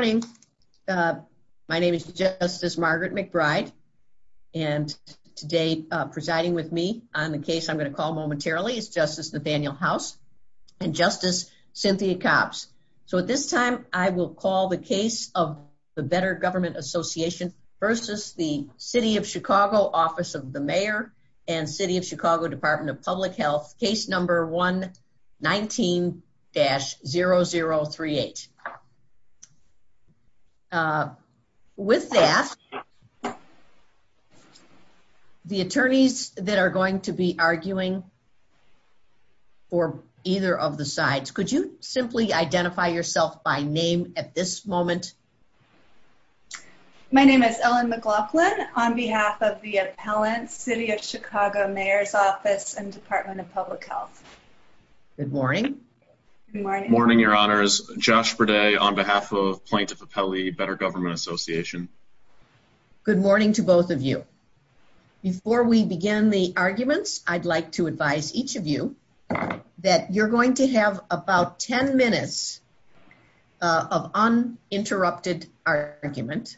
My name is Justice Margaret McBride and today presiding with me on the case I'm going to call momentarily is Justice Nathaniel House and Justice Cynthia Copps. So at this time I will call the case of the Better Government Association versus the City of Chicago Office of the Mayor and City of Chicago Department of Public With that, the attorneys that are going to be arguing for either of the sides could you simply identify yourself by name at this moment? My name is Ellen McLaughlin on behalf of the appellant City of Chicago Mayor's Office and Department of Public Health. Good morning. Good morning, your honors. My name is Josh Verdae on behalf of Plaintiff Appellee, Better Government Association. Good morning to both of you. Before we begin the arguments I'd like to advise each of you that you're going to have about 10 minutes of uninterrupted argument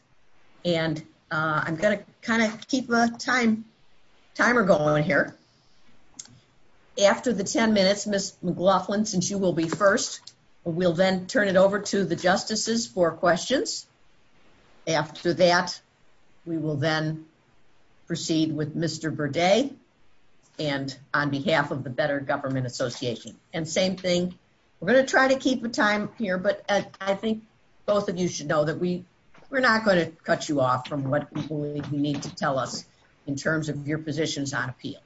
and I'm going to kind of keep a time timer going here. After the 10 minutes, Ms. McLaughlin, since you will be first, we'll then turn it over to the justices for questions. After that we will then proceed with Mr. Verdae and on behalf of the Better Government Association. And same thing, we're going to try to keep the time here but I think both of you should know that we we're not going to cut you off from what we need to tell us in terms of your positions on appeals.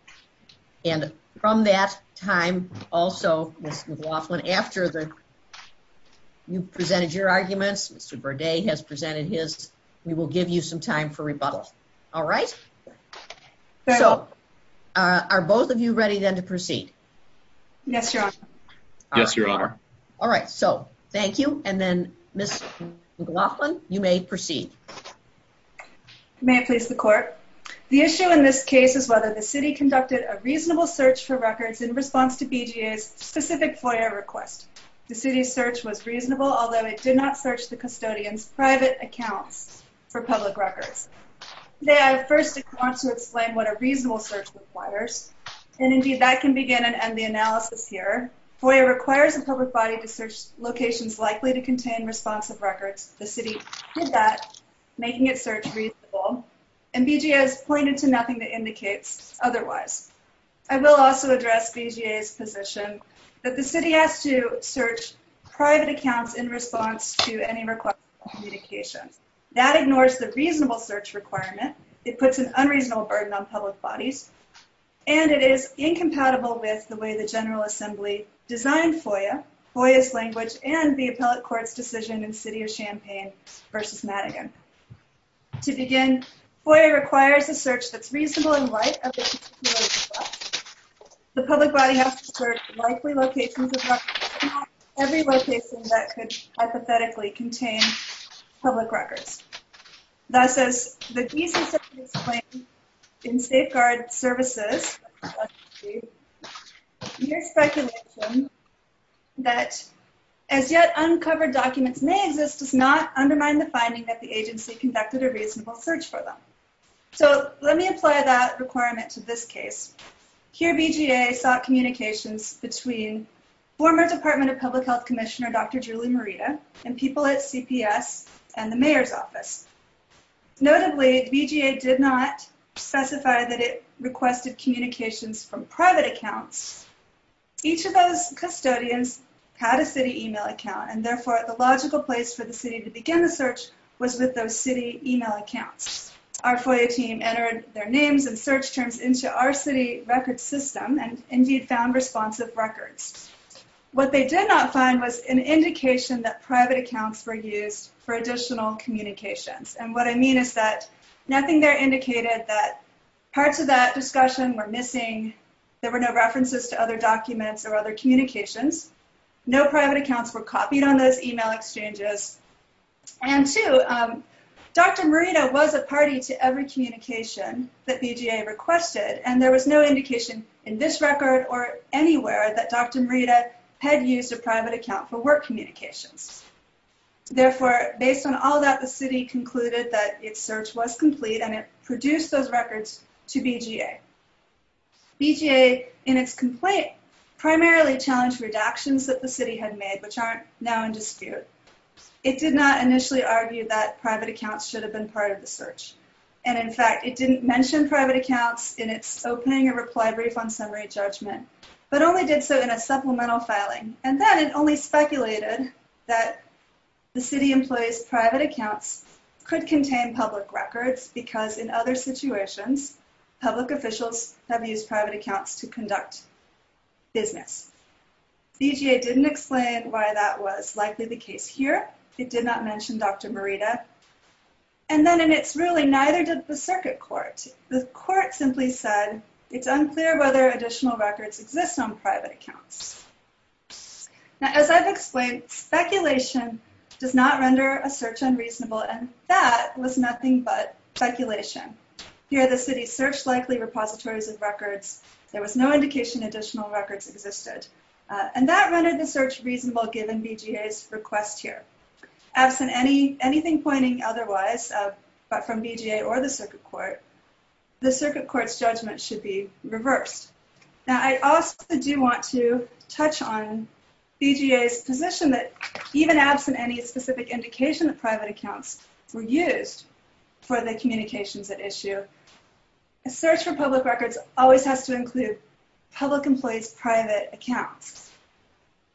And from that time also, Ms. McLaughlin, after you've presented your arguments, since Mr. Verdae has presented his, we will give you some time for rebuttal. All right? So are both of you ready then to proceed? Yes, your honor. All right, so thank you and then Ms. McLaughlin, you may proceed. May it please the city conduct it a reasonable search for records in response to BGA's specific FOIA request. The city's search was reasonable although it did not search the custodian's private account for public records. Today I first want to explain what a reasonable search requires and indeed that can begin and end the analysis here. FOIA requires the public body to search locations likely to contain responsive records. The city did that, making it search reasonable and BGA has pointed to nothing to indicate otherwise. I will also address BGA's position that the city has to search private accounts in response to any required communication. That ignores the reasonable search requirement, it puts an unreasonable burden on public bodies, and it is incompatible with the way the General Assembly designs FOIA, FOIA's language, and the appellate court's decision in the City of Champaign versus Madigan. To begin, FOIA requires the search that's reasonable and right, the public body has to search likely locations of records, every location that could hypothetically contain public records. That says, the BGA claims in this does not undermine the finding that the agency conducted a reasonable search for them. So let me apply that requirement to this case. Here BGA sought communications between former Department of Public Health Commissioner Dr. Julie Morita and people at CPS and the mayor's office. Notably, BGA did not specify that it requested communications from private accounts. Each of those custodians had a place for the city to begin the search was with those city email accounts. Our FOIA team entered their names and search terms into our city records system and indeed found responsive records. What they did not find was an indication that private accounts were used for additional communications. And what I mean is that nothing there indicated that parts of that discussion were missing, there were no references to other documents or other communications, no private accounts were copied on those email exchanges, and two, Dr. Morita was a party to every communication that BGA requested and there was no indication in this record or anywhere that Dr. Morita had used a private account for work communications. Therefore, based on all that the city concluded that its search was complete and it produced those records to BGA. BGA in its complaint primarily challenged redactions that the city had made which aren't now in dispute. It did not initially argue that private accounts should have been part of the search and in fact it didn't mention private accounts in its opening or reply brief on summary judgment but only did so in a supplemental filing and then it only speculated that the city employees private accounts could contain public records because in other situations public officials have used private accounts to conduct business. BGA didn't explain why that was likely the case here. It did not mention Dr. Morita and then in its ruling neither did the circuit court. The court simply said it's unclear whether additional records exist on private accounts. Now as I've explained, speculation does not render a search unreasonable and that was nothing but speculation. Here the city searched likely repositories of records. There was no indication additional records existed and that rendered the search reasonable given BGA's request here. As in anything pointing otherwise but from BGA or the circuit court, the circuit court's judgment should be reversed. Now I also do want to touch on BGA's position that even as in any specific indication of for the communications at issue, a search for public records always has to include public employees private accounts.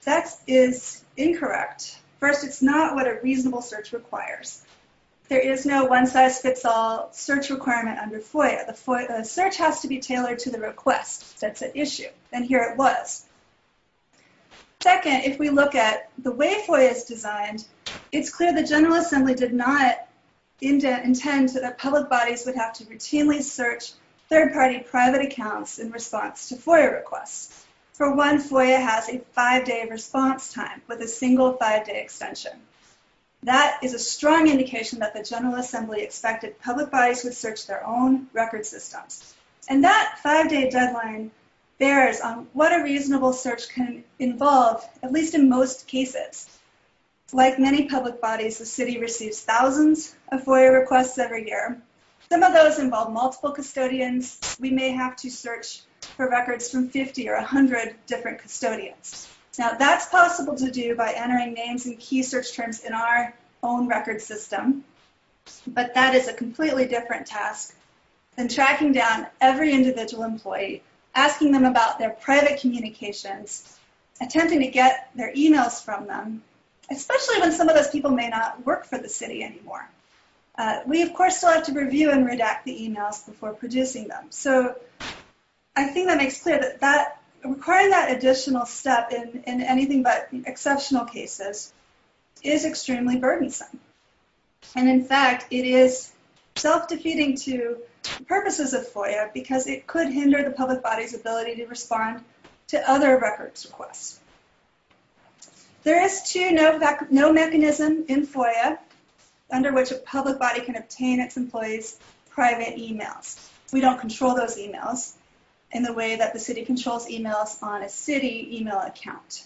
That is incorrect. First it's not what a reasonable search requires. There is no one-size-fits-all search requirement under FOIA. A search has to be tailored to the request that's at issue and here it was. Second, if we look at the way FOIA is designed, it's clear the General Assembly did not intend that public bodies would have to routinely search third-party private accounts in response to FOIA requests. For once, FOIA has a five-day response time with a single five-day extension. That is a strong indication that the General Assembly expected public bodies to search their own record system and that five-day deadline bears on what a city receives thousands of FOIA requests every year. Some of those involve multiple custodians. We may have to search for records from 50 or a hundred different custodians. Now that's possible to do by entering names and key search terms in our own record system, but that is a completely different task than tracking down every individual employee, asking them about their private communications, attempting to get their emails from them, especially when some of those people may not work for the city anymore. We, of course, still have to review and redact the emails before producing them. So I think that makes clear that requiring that additional step in anything but exceptional cases is extremely burdensome and in fact it is self-defeating to the purposes of FOIA because it could hinder the public body's ability to respond to other records requests. There is, too, no mechanism in FOIA under which a public body can obtain its employees' private emails. We don't control those emails in the way that the city controls emails on a city email account.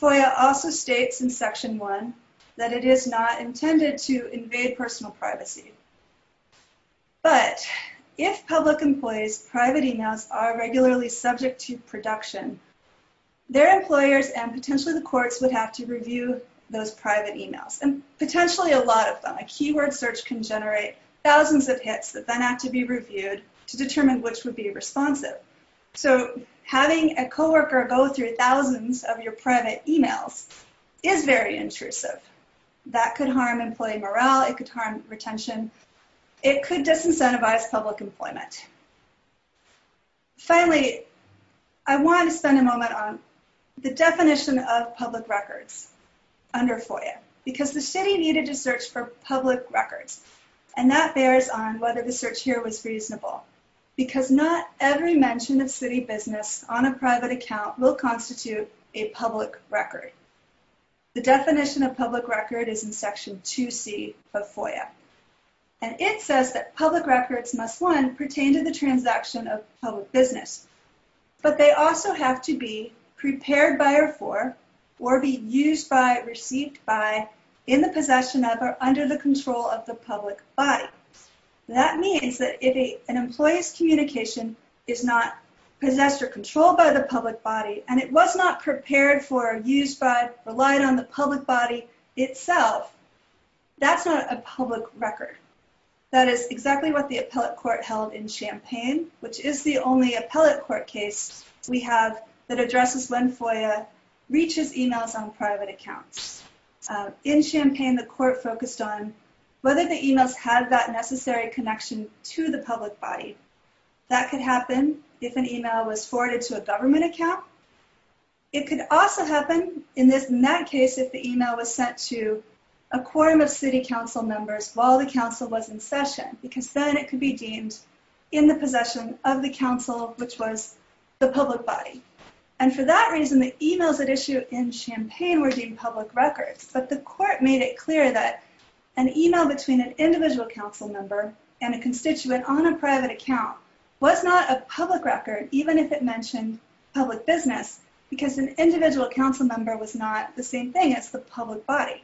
FOIA also states in Section 1 that it is not intended to invade personal privacy, but if public employees' private emails are regularly subject to production, their employers and potentially the courts would have to review those private emails, and potentially a lot of them. A keyword search can generate thousands of hits that then have to be reviewed to determine which would be responsive. So having a co-worker go through thousands of your private emails is very intrusive. That could harm employee morale. It could harm retention. It could disincentivize public employment. Finally, I want to spend a moment on the definition of public records under FOIA because the city needed to search for public records and that bears on whether the search here was reasonable because not every mention of city business on a private account will constitute a public record. The definition of public record is in Section 2C of FOIA and it says that FOIA pertains to the transaction of public business, but they also have to be prepared by or for, or be used by, received by, in the possession of, or under the control of the public body. That means that if an employee's communication is not possessed or controlled by the public body and it was not prepared for, used by, relied on the public body itself, that's not a public record. That is exactly what the appellate court held in Champaign, which is the only appellate court case we have that addresses when FOIA reaches emails on private accounts. In Champaign, the court focused on whether the email has that necessary connection to the public body. That could happen if an email was forwarded to a government account. It could also happen, in that case, if the email was sent to a quorum of city council members while the council was in session, because then it could be deemed in the possession of the council, which was the public body. And for that reason, the emails at issue in Champaign were deemed public records, but the court made it clear that an email between an individual council member and a constituent on a private account was not a public record, even if it mentioned public business, because an individual council member was not the same thing as the public body.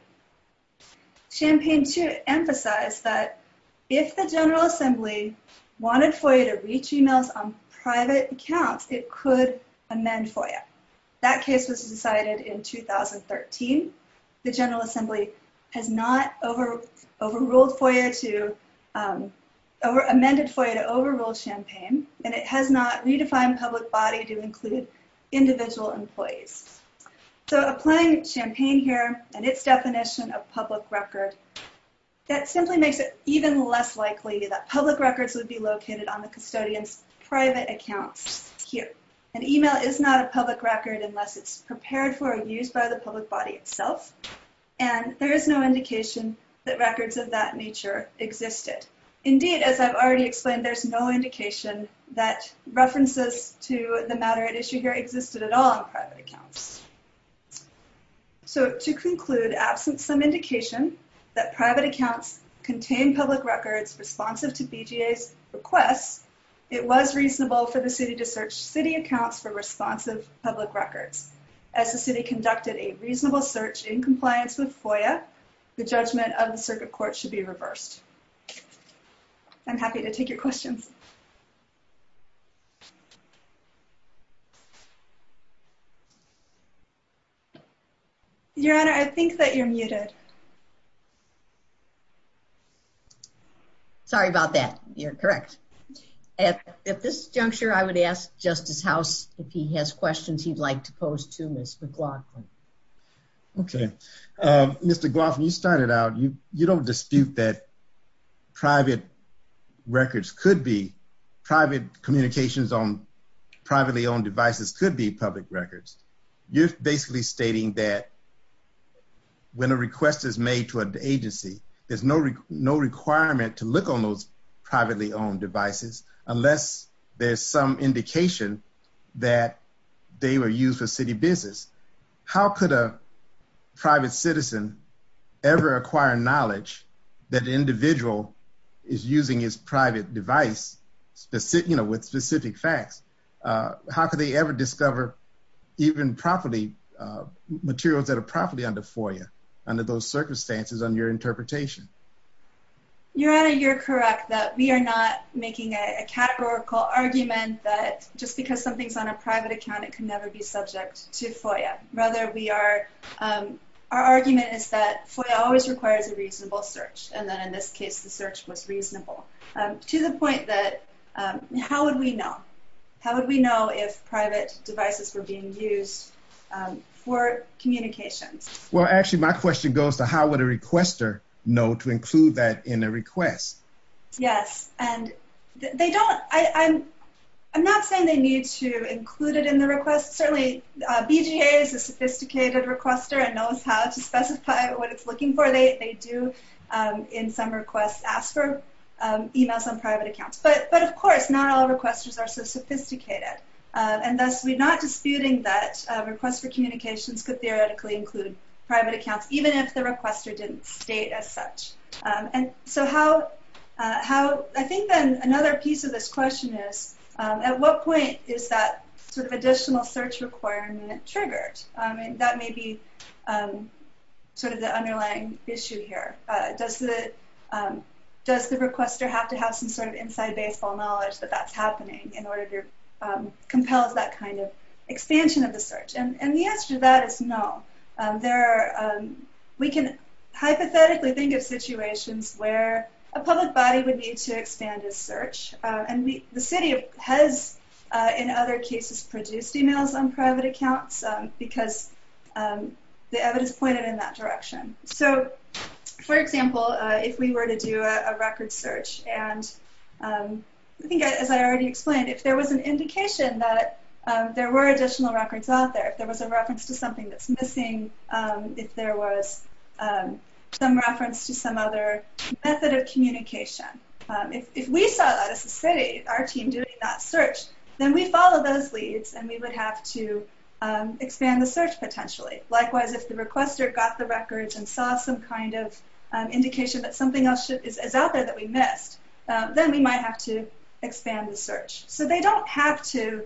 Champaign, too, emphasized that if the General Assembly wanted FOIA to reach emails on private accounts, it could amend FOIA. That case was decided in 2013. The General Assembly has not overruled FOIA to, amended FOIA to overrule Champaign, and it has not redefined public body to include individual employees. So applying Champaign here and its definition of public record, that simply makes it even less likely that public records would be located on the custodian's private account here. An email is not a public record unless it's prepared for use by the public body itself, and there is no indication that records of that nature existed. Indeed, as I've already explained, there's no indication that references to the matter at issue here existed at all on private accounts. So to conclude, absent some indication that private accounts contain public records responsive to BJA's request, it was reasonable for the city to search city accounts for responsive public records. As the city conducted a reasonable search in compliance with FOIA, the judgment of the circuit court should be I'm happy to take your questions. Your Honor, I think that you're muted. Sorry about that, you're correct. At this juncture, I would ask Justice House if he has questions he'd like to pose to Mr. Glockman. Okay, Mr. Glockman, you started out, you don't dispute that private records could be, private communications on privately owned devices could be public records. You're basically stating that when a request is made to an agency, there's no requirement to look on those privately owned devices unless there's some indication that they were used for city business. How could a private citizen ever acquire knowledge that the individual is using his private device, you know, with specific facts? How could they ever discover even properly materials that are properly under FOIA under those circumstances under your interpretation? Your Honor, you're correct that we are not making a categorical argument that just because something's on a private account, it could never be subject to FOIA. Rather, we are, our argument is that FOIA always requires a reasonable search, and then in this case, the search was reasonable. To the point that, how would we know? How would we know if private devices were being used for communication? Well, actually, my question goes to how would a requester know to include that in a request? Certainly, BJA is a sophisticated requester and knows how to specify what it's looking for. They do, in some requests, ask for emails on private accounts. But, of course, not all requesters are so sophisticated, and thus, we're not disputing that a request for communications could theoretically include private accounts, even if the requester didn't state as such. And so, I think that another piece of this question is, at what point is that sort of additional search requirement triggered? And that may be sort of the underlying issue here. Does the requester have to have some sort of inside-baseball knowledge that that's happening in order to compel that kind of expansion of the search? And the answer to that is no. We can hypothetically think of situations where a public body would need to expand its search, and the city has, in other cases, produced emails on private accounts because the evidence pointed in that direction. So, for example, if we were to do a record search, and I think, as I already explained, if there was an indication that there were additional records out there, if there was a reference to some other method of communication, if we saw that as a city, our team doing that search, then we follow those leads, and we would have to expand the search, potentially. Likewise, if the requester got the records and saw some kind of indication that something else is out there that we missed, then we might have to expand the search. So, they don't have to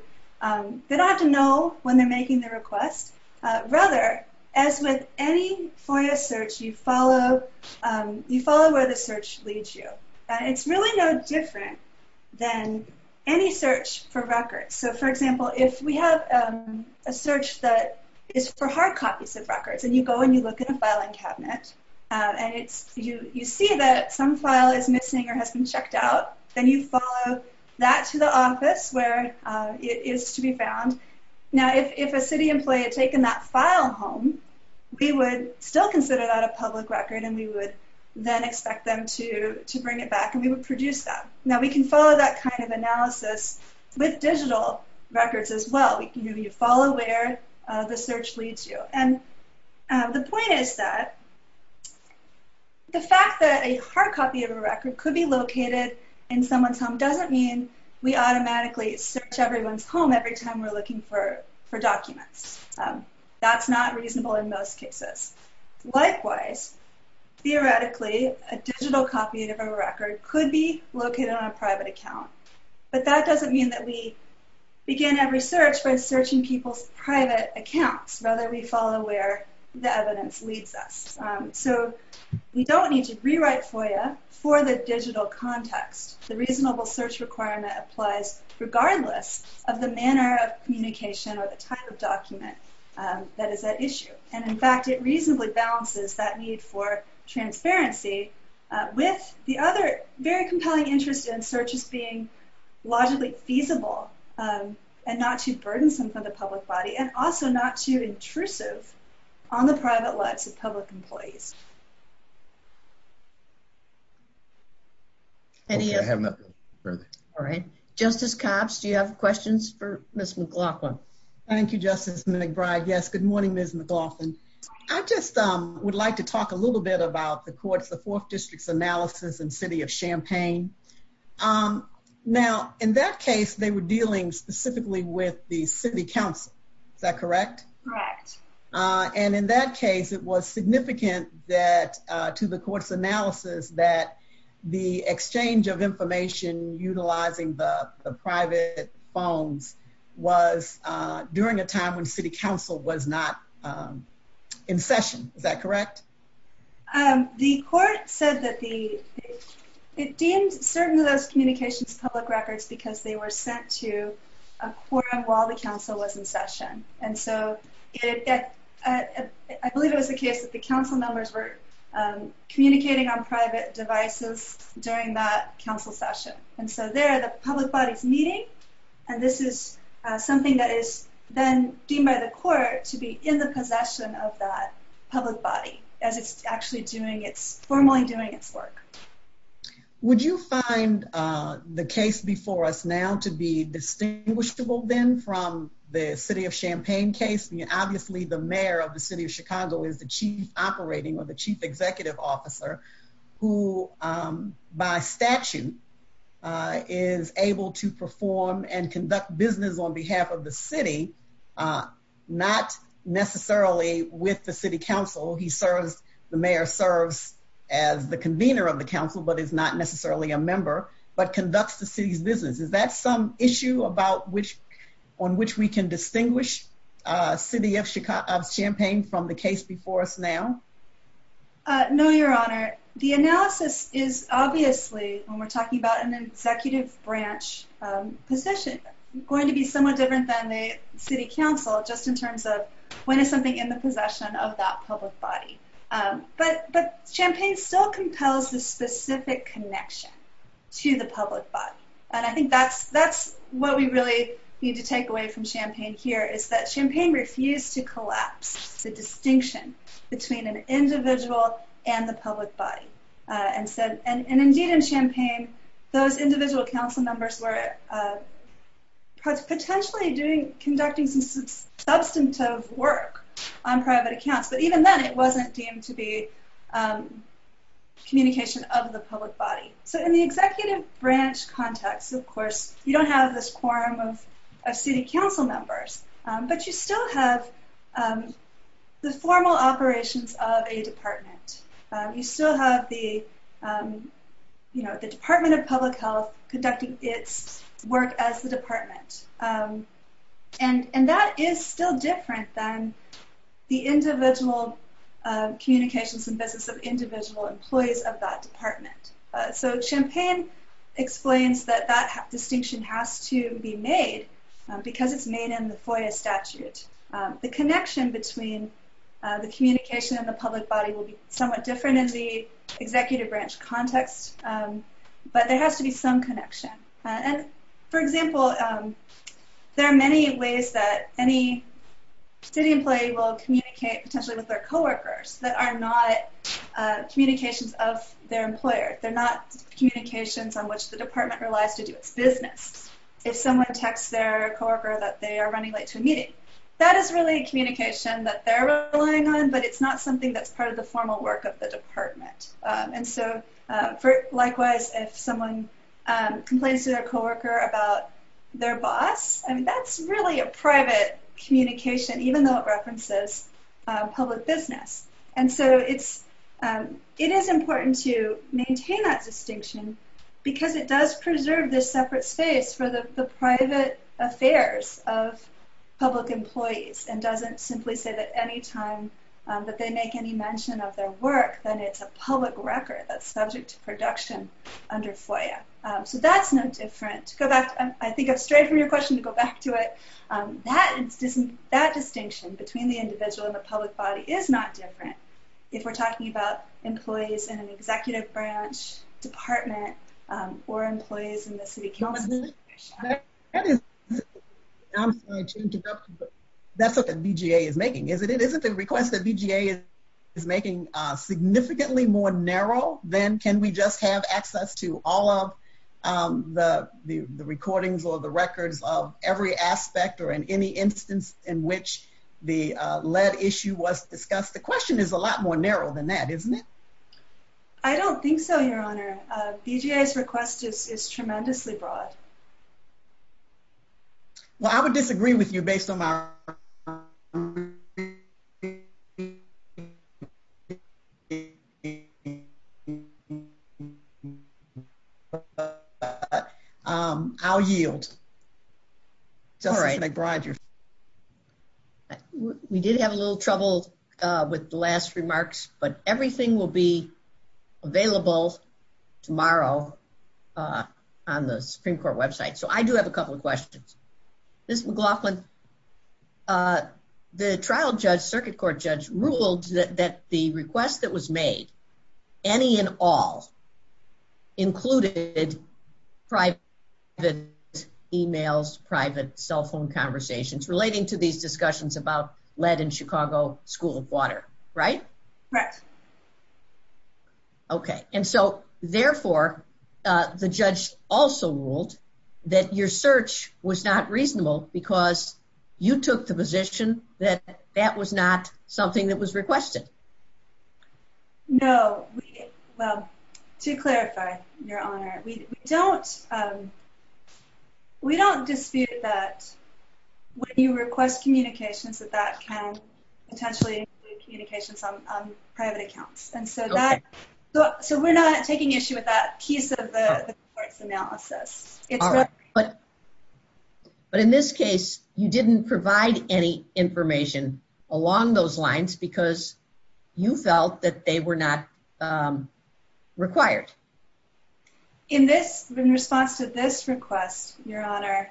know when they're making the request. Rather, as with any sort of search, you follow where the search leads you. It's really no different than any search for records. So, for example, if we have a search that is for hard copies of records, and you go and you look in a filing cabinet, and you see that some file is missing or has been checked out, then you follow that to the office where it is to be found. Now, if a city employee had taken that file home, we would still consider that a public record, and we would then expect them to bring it back, and we would produce that. Now, we can follow that kind of analysis with digital records as well. We can follow where the search leads you. And the point is that the fact that a hard copy of a record could be located in someone's home doesn't mean we automatically search everyone's home every time we're not reasonable in most cases. Likewise, theoretically, a digital copy of a record could be located on a private account, but that doesn't mean that we begin every search by searching people's private accounts. Rather, we follow where the evidence leads us. So, you don't need to rewrite FOIA for the digital context. The reasonable search requirement applies regardless of the manner of communication or the type of document that is at issue. And, in fact, it reasonably balances that need for transparency with the other very compelling interest in searches being logically feasible and not too burdensome for the public body and also not too intrusive on the private lives of public employees. Okay. I have nothing further. All right. Justice Cox, do you have questions for Ms. McLaughlin? Thank you, Justice McBride. Yes, good morning, Ms. McLaughlin. I just would like to talk a little bit about the court's, the Fourth District's, analysis in the city of Champaign. Now, in that case, they were dealing specifically with the city council. Is that correct? Correct. And, in that case, it was significant that, to the court's analysis, that the exchange of information utilizing the private phones was during a time when city council was not in session. Is that correct? The court said that the, it deemed certain of those communications public records because they were sent to a quorum while the council was in session. And so, I believe it was the case that the council members were communicating on private devices during that council session. And so, there, the public body's meeting, and this is something that is then deemed by the court to be in the possession of that public body as it's actually doing its, formally doing its work. Would you find the case before us now to be distinguishable, then, from the city of Champaign case? Obviously, the mayor of the city of Chicago is the chief operating or the chief executive officer who, by statute, is able to perform and conduct business on behalf of the city, not necessarily with the city council. He serves, the mayor serves as the convener of the council, but is not necessarily a member, but conducts the city's business. Is that some issue about which, on which we can distinguish city of Champaign from the case before us now? No, Your Honor. The analysis is obviously, when we're talking about an executive branch position, going to be somewhat different than the city council, just in terms of when is something in the possession of that public body. But Champaign still compels the specific connection to the public body, and I think that's, that's what we really need to take away from Champaign here, is that Champaign refused to collapse the distinction between an individual and the public body. And so, and indeed in Champaign, he was potentially conducting some substantive work on private accounts, but even then it wasn't deemed to be communication of the public body. So in the executive branch context, of course, you don't have this quorum of city council members, but you still have the formal operations of a department. You still have the, you know, the Department of Public Health conducting its work as the department. And, and that is still different than the individual communications and business of individual employees of that department. So Champaign explains that that distinction has to be made because it's made in the FOIA statute. The connection between the communication and the public body will be somewhat different in the there has to be some connection. And for example, there are many ways that any city employee will communicate, potentially with their co-workers, that are not communications of their employers. They're not communications on which the department relies to do its business. If someone texts their co-worker that they are running late to a meeting, that is really a communication that they're relying on, but it's not something that's part of the formal work of the department. And so, likewise, if someone complains to their co-worker about their boss, and that's really a private communication, even though it references public business. And so it's, it is important to maintain that distinction because it does preserve this separate space for the private affairs of public employees and doesn't simply say that any time that they make any mention of their work then it's a public record that's subject to production under FOIA. So that's not different. Go back, I think it's straight from your question to go back to it. That is, that distinction between the individual and the public body is not different if we're talking about employees in an executive branch, department, or employees in the city council. That is, and I'm sorry to interrupt you, but that's what the BGA is making, is it? The request that BGA is making significantly more narrow than can we just have access to all of the recordings or the records of every aspect or in any instance in which the lead issue was discussed? The question is a lot more narrow than that, isn't it? I don't think so, your honor. BGA's request is tremendously broad. Well I would disagree with you based on our... I'll yield. All right. We did have a little trouble with the last remarks, but everything will be available tomorrow on the Supreme Court website. So I do have a couple of questions. Ms. McLaughlin, the trial judge, circuit court judge, ruled that the request that was made, any and all, included private emails, private cell phone conversations relating to these issues. Correct. Okay, and so therefore the judge also ruled that your search was not reasonable because you took the position that that was not something that was requested. No, well to clarify, your honor, we don't dispute that when you request communications that that can potentially include communications on private accounts. So we're not taking issue with that piece of the analysis. But in this case, you didn't provide any information along those lines because you felt that they were not required. In this, in response to this request, your honor,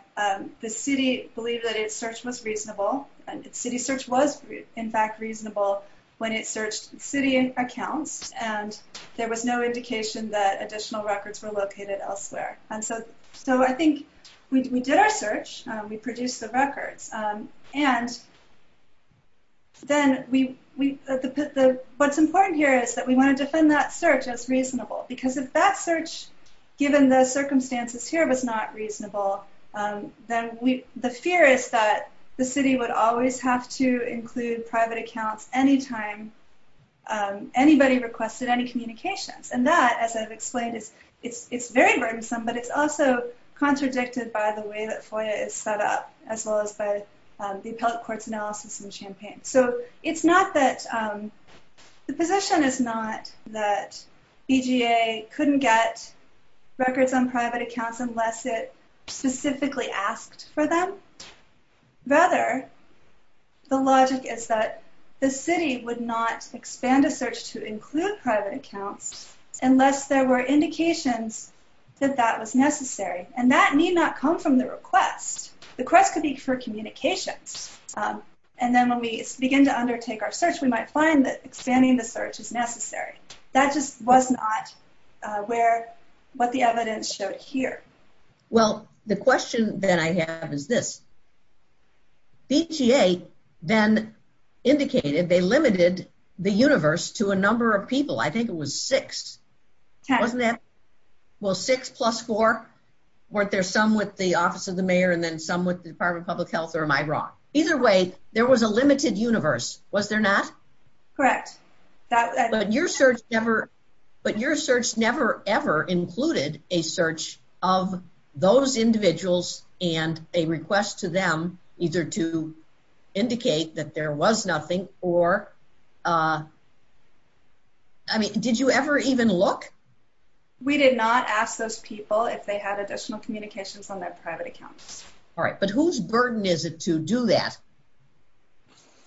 the city believed that its search was reasonable and its city search was in fact reasonable when it searched city accounts and there was no indication that additional records were located elsewhere. And so I think we did our search, we produced the record, and then what's important here is that we want to defend that search as reasonable because if that search, given the circumstances here, was not reasonable, the city would always have to include private accounts anytime anybody requested any communications. And that, as I've explained, is very burdensome, but it's also contradicted by the way that FOIA is set up, as well as by the appellate court's analysis in Champaign. So it's not that, the position is not that EGA couldn't get records on private accounts unless it specifically asked for them. Rather, the logic is that the city would not expand a search to include private accounts unless there were indications that that was necessary. And that need not come from the request. The request could be for communication. And then when we begin to undertake our search, we might find that expanding the search is necessary. That just was not where, what the evidence showed here. Well, the BTA then indicated they limited the universe to a number of people. I think it was six, wasn't it? Well, six plus four, weren't there some with the Office of the Mayor and then some with the Department of Public Health, or am I wrong? Either way, there was a limited universe, was there not? Correct. But your search never, but your search never ever included a search of those individuals and a request to them either to indicate that there was nothing or, I mean, did you ever even look? We did not ask those people if they had additional communications on that private account. All right, but whose burden is it to do that?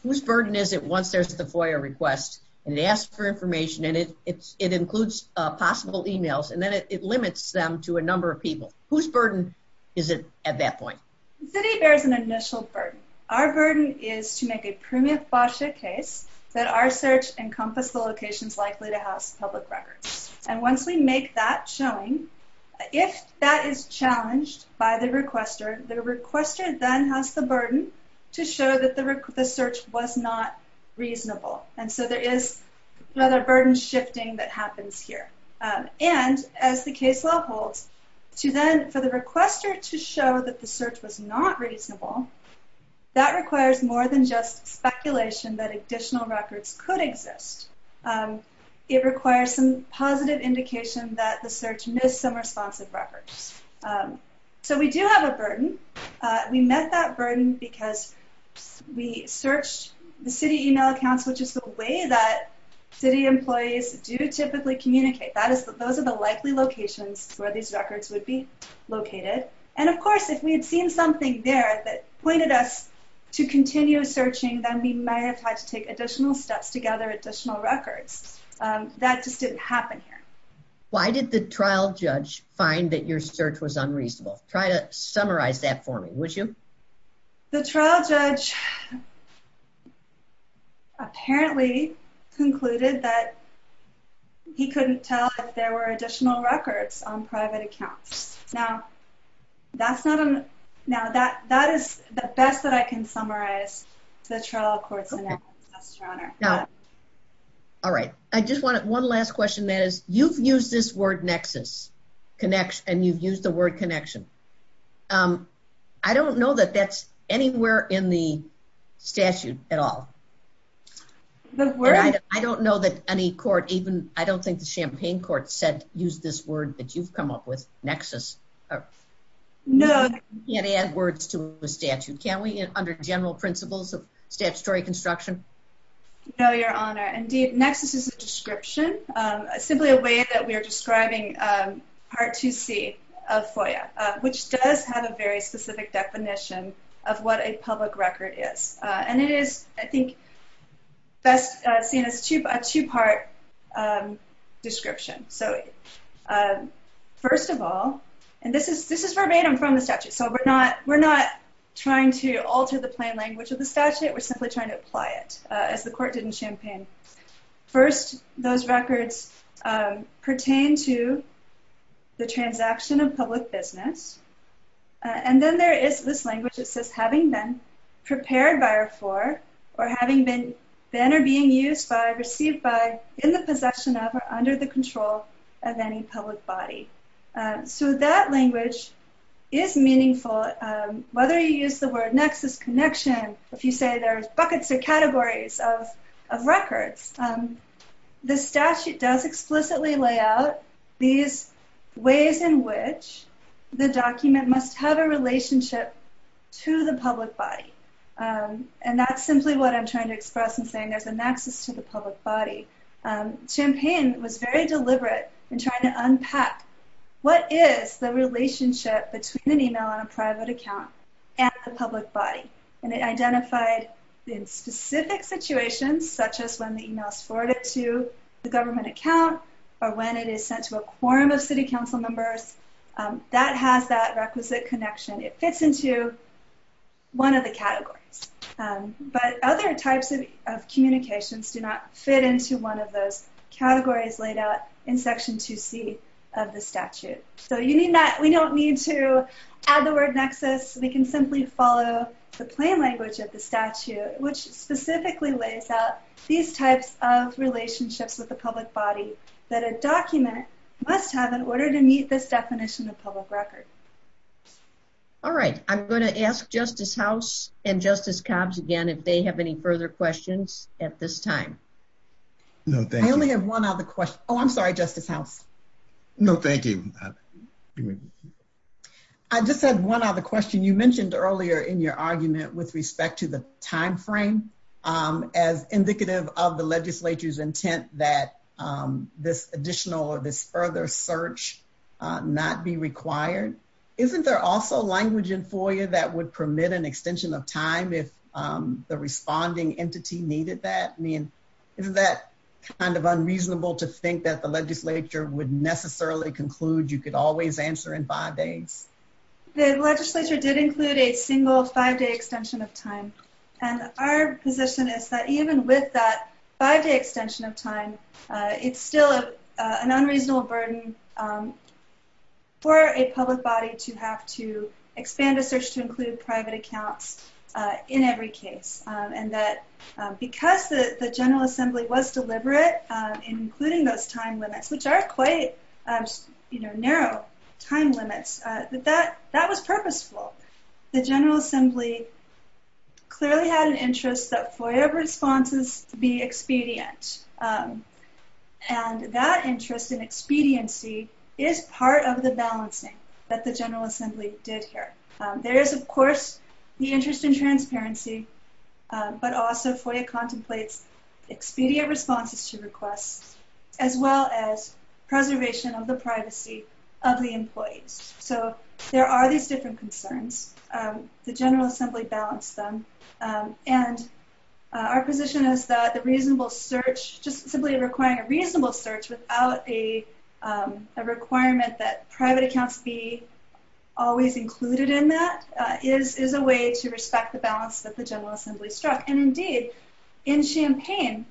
Whose burden is it once there's the FOIA request and they ask for information and it includes possible emails and then it limits them to a number of people? Whose burden is it at that point? The city bears an initial burden. Our burden is to make a premium FOIA case that our search encompass the locations likely to have public records. And once we make that shown, if that is challenged by the requester, the requester then has the burden to show that the search was not reasonable. And so there is a burden shifting that happens here. And as the case law holds, for the requester to show that the search was not reasonable, that requires more than just speculation that additional records could exist. It requires some positive indication that the search missed some responsive records. So we do have a burden. We met that burden because we searched the city email accounts, which is the way that city employees do typically communicate. Those are the likely locations where these records would be located. And of course, if we had seen something there that pointed us to continue searching, then we might have had to take additional steps to gather additional records. That just didn't happen here. Why did the trial judge find that your search was unreasonable? Try to summarize that for me, would you? The trial judge apparently concluded that he couldn't tell if there were additional records on private accounts. Now that's not a... Now that is the best that I can summarize the trial court's analysis, Your Honor. All right. I just wanted one last question that is, you've used this word nexus, and you've used the word connection. I don't know that that's anywhere in the statute at all. I don't know that any court even, I don't think the Champaign court said use this word that you've come up with, nexus. No. You can't add words to the statute. Can we, under general principles of statutory construction? No, Your Honor. Indeed, nexus is a description, simply a way that we're describing Part 2C of FOIA, which does have a very specific definition of what a public record is. And it is, I think, best seen as a two-part description. So, first of all, and this is verbatim from the statute, so we're not trying to alter the plain language of the statute. We're simply trying to apply it, as the court did in Champaign. First, those records pertain to the transaction of public business. And then there is this language that says, having been prepared by or for, or having been, been or being used by, received by, in the possession of, or under the control of any public body. So that language is meaningful. Whether you use the word nexus, connection, if you say there's buckets or categories of records, the statute does explicitly lay out these ways in which the document must have a relationship to the public body. And that's simply what I'm trying to express in saying there's a nexus to the public body. Champaign was very deliberate in trying to unpack what is the relationship between an email on a private account and the public body. And it identified in specific situations, such as when the email is forwarded to the government account, or when it is sent to a quorum of city council members, that has that requisite connection. It fits into one of the categories. But other types of communications do not fit into one of those categories laid out in Section 2C of the statute. So, we don't need to add the word nexus. We can simply follow the statute and it explicitly lays out these types of relationships with the public body that a document must have in order to meet this definition of public record. All right. I'm going to ask Justice House and Justice Cobbs again if they have any further questions at this time. No, thank you. I only have one other question. Oh, I'm sorry, Justice House. No, thank you. I just have one other question. You mentioned earlier in your argument with respect to the timeframe as indicative of the legislature's intent that this additional or this further search not be required. Isn't there also language in FOIA that would permit an extension of time if the responding entity needed that? I mean, isn't that kind of unreasonable to think that the legislature would necessarily conclude you could always answer in five days? The legislature did include a single five-day extension of time. And our position is that even with that five-day extension of time, it's still an unreasonable burden for a public body to have to expand a search to include private accounts in every case. And that because the General Assembly was deliberate in including those time limits, which are quite narrow time limits, that was purposeful. The General Assembly clearly had an interest that FOIA responses be expedient. And that interest in expediency is part of the balancing that the General Assembly did here. There is, of course, the interest in transparency, but also FOIA contemplates expedient responses to requests, as well as preservation of the privacy of the employee. So there are these different concerns. The General Assembly balanced them. And our position is that the reasonable search, just simply requiring a reasonable search without a requirement that private accounts be always included in that, is a way to respect the balance that the General Assembly struck. And indeed, in Champaign,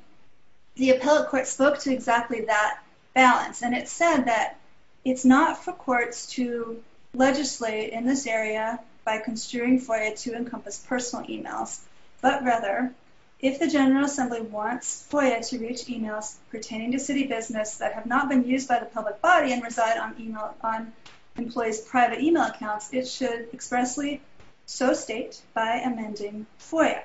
the appellate court spoke to exactly that balance. And it said that it's not for courts to legislate in this area by construing FOIA to encompass personal e-mails, but rather, if the General Assembly wants FOIA to reach e-mails pertaining to city business that have not been used by the public body and reside on employees' private e-mail accounts, it should expressly show states by amending FOIA.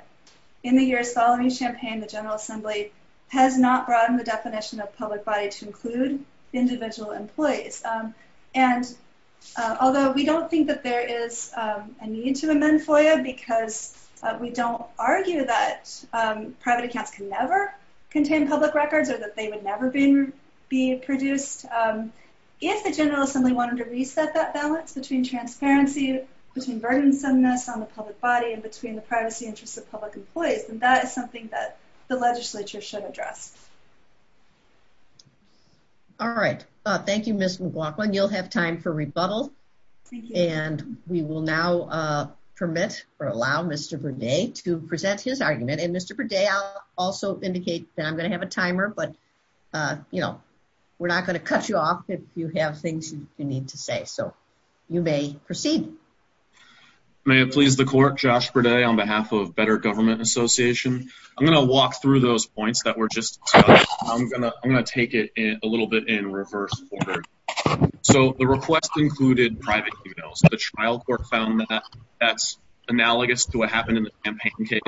In the years following Champaign, the General Assembly has not brought in the definition of public body to include individual employees. And although we don't think that there is a need to amend FOIA, because we don't argue that private accounts can never contain public records or that they would never be produced, if the General Assembly wanted to reset that balance between transparency, between burdensomeness on the public body, and between the privacy interests of public employees, then that is something that the legislature should address. All right. Thank you, Ms. McLaughlin. You'll have time for rebuttal. And we will now permit or allow Mr. Burdett to present his argument. And Mr. Burdett, I'll also indicate that I'm going to have a timer, but, you know, we're not going to cut you off if you have things you need to say. So, you may proceed. May it please the Court, Josh Burdett on behalf of Better Government Association. I'm going to walk through those points that were just discussed. I'm going to take it a little bit in reverse order. So, the request included private e-mails. The trial court found that that's analogous to what happened in the campaign case.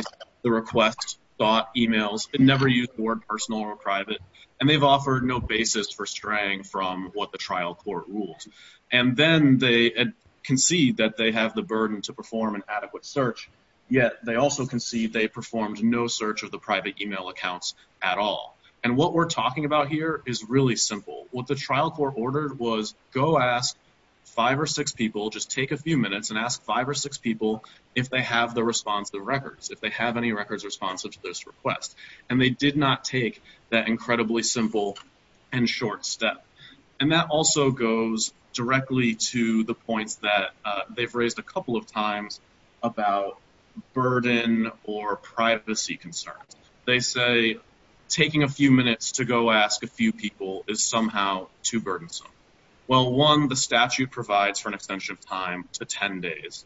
The request sought e-mails that never used the word personal or private, and they've offered no basis for straying from what the trial court ruled. And then they concede that they have the burden to perform an adequate search, yet they also concede they performed no search of the private e-mail accounts at all. And what we're talking about here is really simple. What the trial court ordered was go ask five or six people, just take a few minutes and ask five or six people if they have the responsive records, if they have any records responsive to this request. And they did not take that incredibly simple and short step. And that also goes directly to the point that they've raised a couple of times about burden or privacy concerns. They say taking a few minutes to go ask a few people is somehow too burdensome. Well, one, the statute provides for an extension of time to ten days,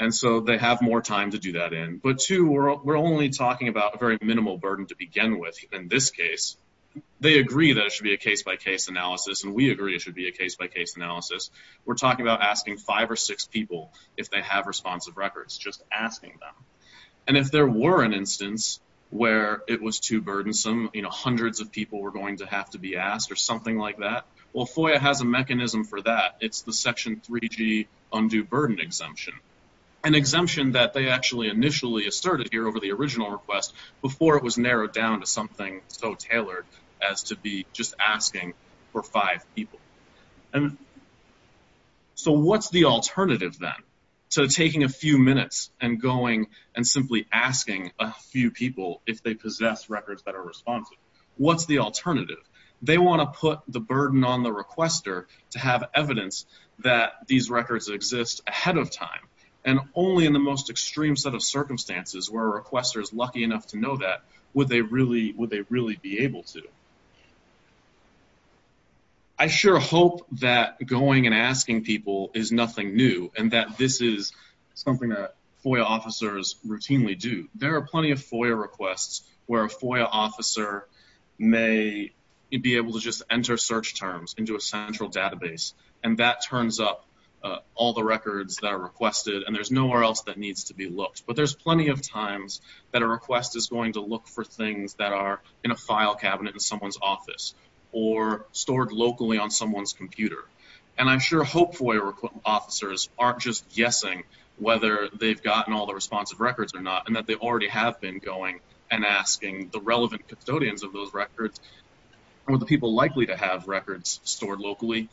and so they have more time to do that in. But two, we're only talking about a very minimal burden to begin with in this case. They agree that it should be a case-by-case analysis, and we agree it should be a case-by-case analysis. We're talking about asking five or six people if they have responsive records, just asking them. And if there were an instance where it was too burdensome, you know, hundreds of people were going to have to be asked or something like that, well, FOIA has a mechanism for that. It's the Section 3G Undue Burden Exemption, an exemption that they actually initially asserted here over the original request before it was narrowed down to something so tailored as to be just asking for five people. And so what's the alternative then? So taking a few minutes and going and simply asking a few people if they possess records that are responsive. What's the alternative? They want to put the burden on the requester to have evidence that these records exist ahead of time, and only in the most extreme set of circumstances where a requester is lucky enough to know that would they really be able to. I sure hope that going and asking people is nothing new and that this is something that FOIA officers routinely do. There are plenty of FOIA requests where a FOIA officer may be able to just enter search terms into a central database and that turns up all the records that are requested and there's no where else that needs to be looked. But there's plenty of times that a request is going to look for things that are in a file cabinet in someone's office or stored locally on someone's computer. And I'm sure hopeful FOIA officers aren't just guessing whether they've gotten all the responsive records or not and that they already have been going and asking the relevant custodians of those records are the people likely to have records stored locally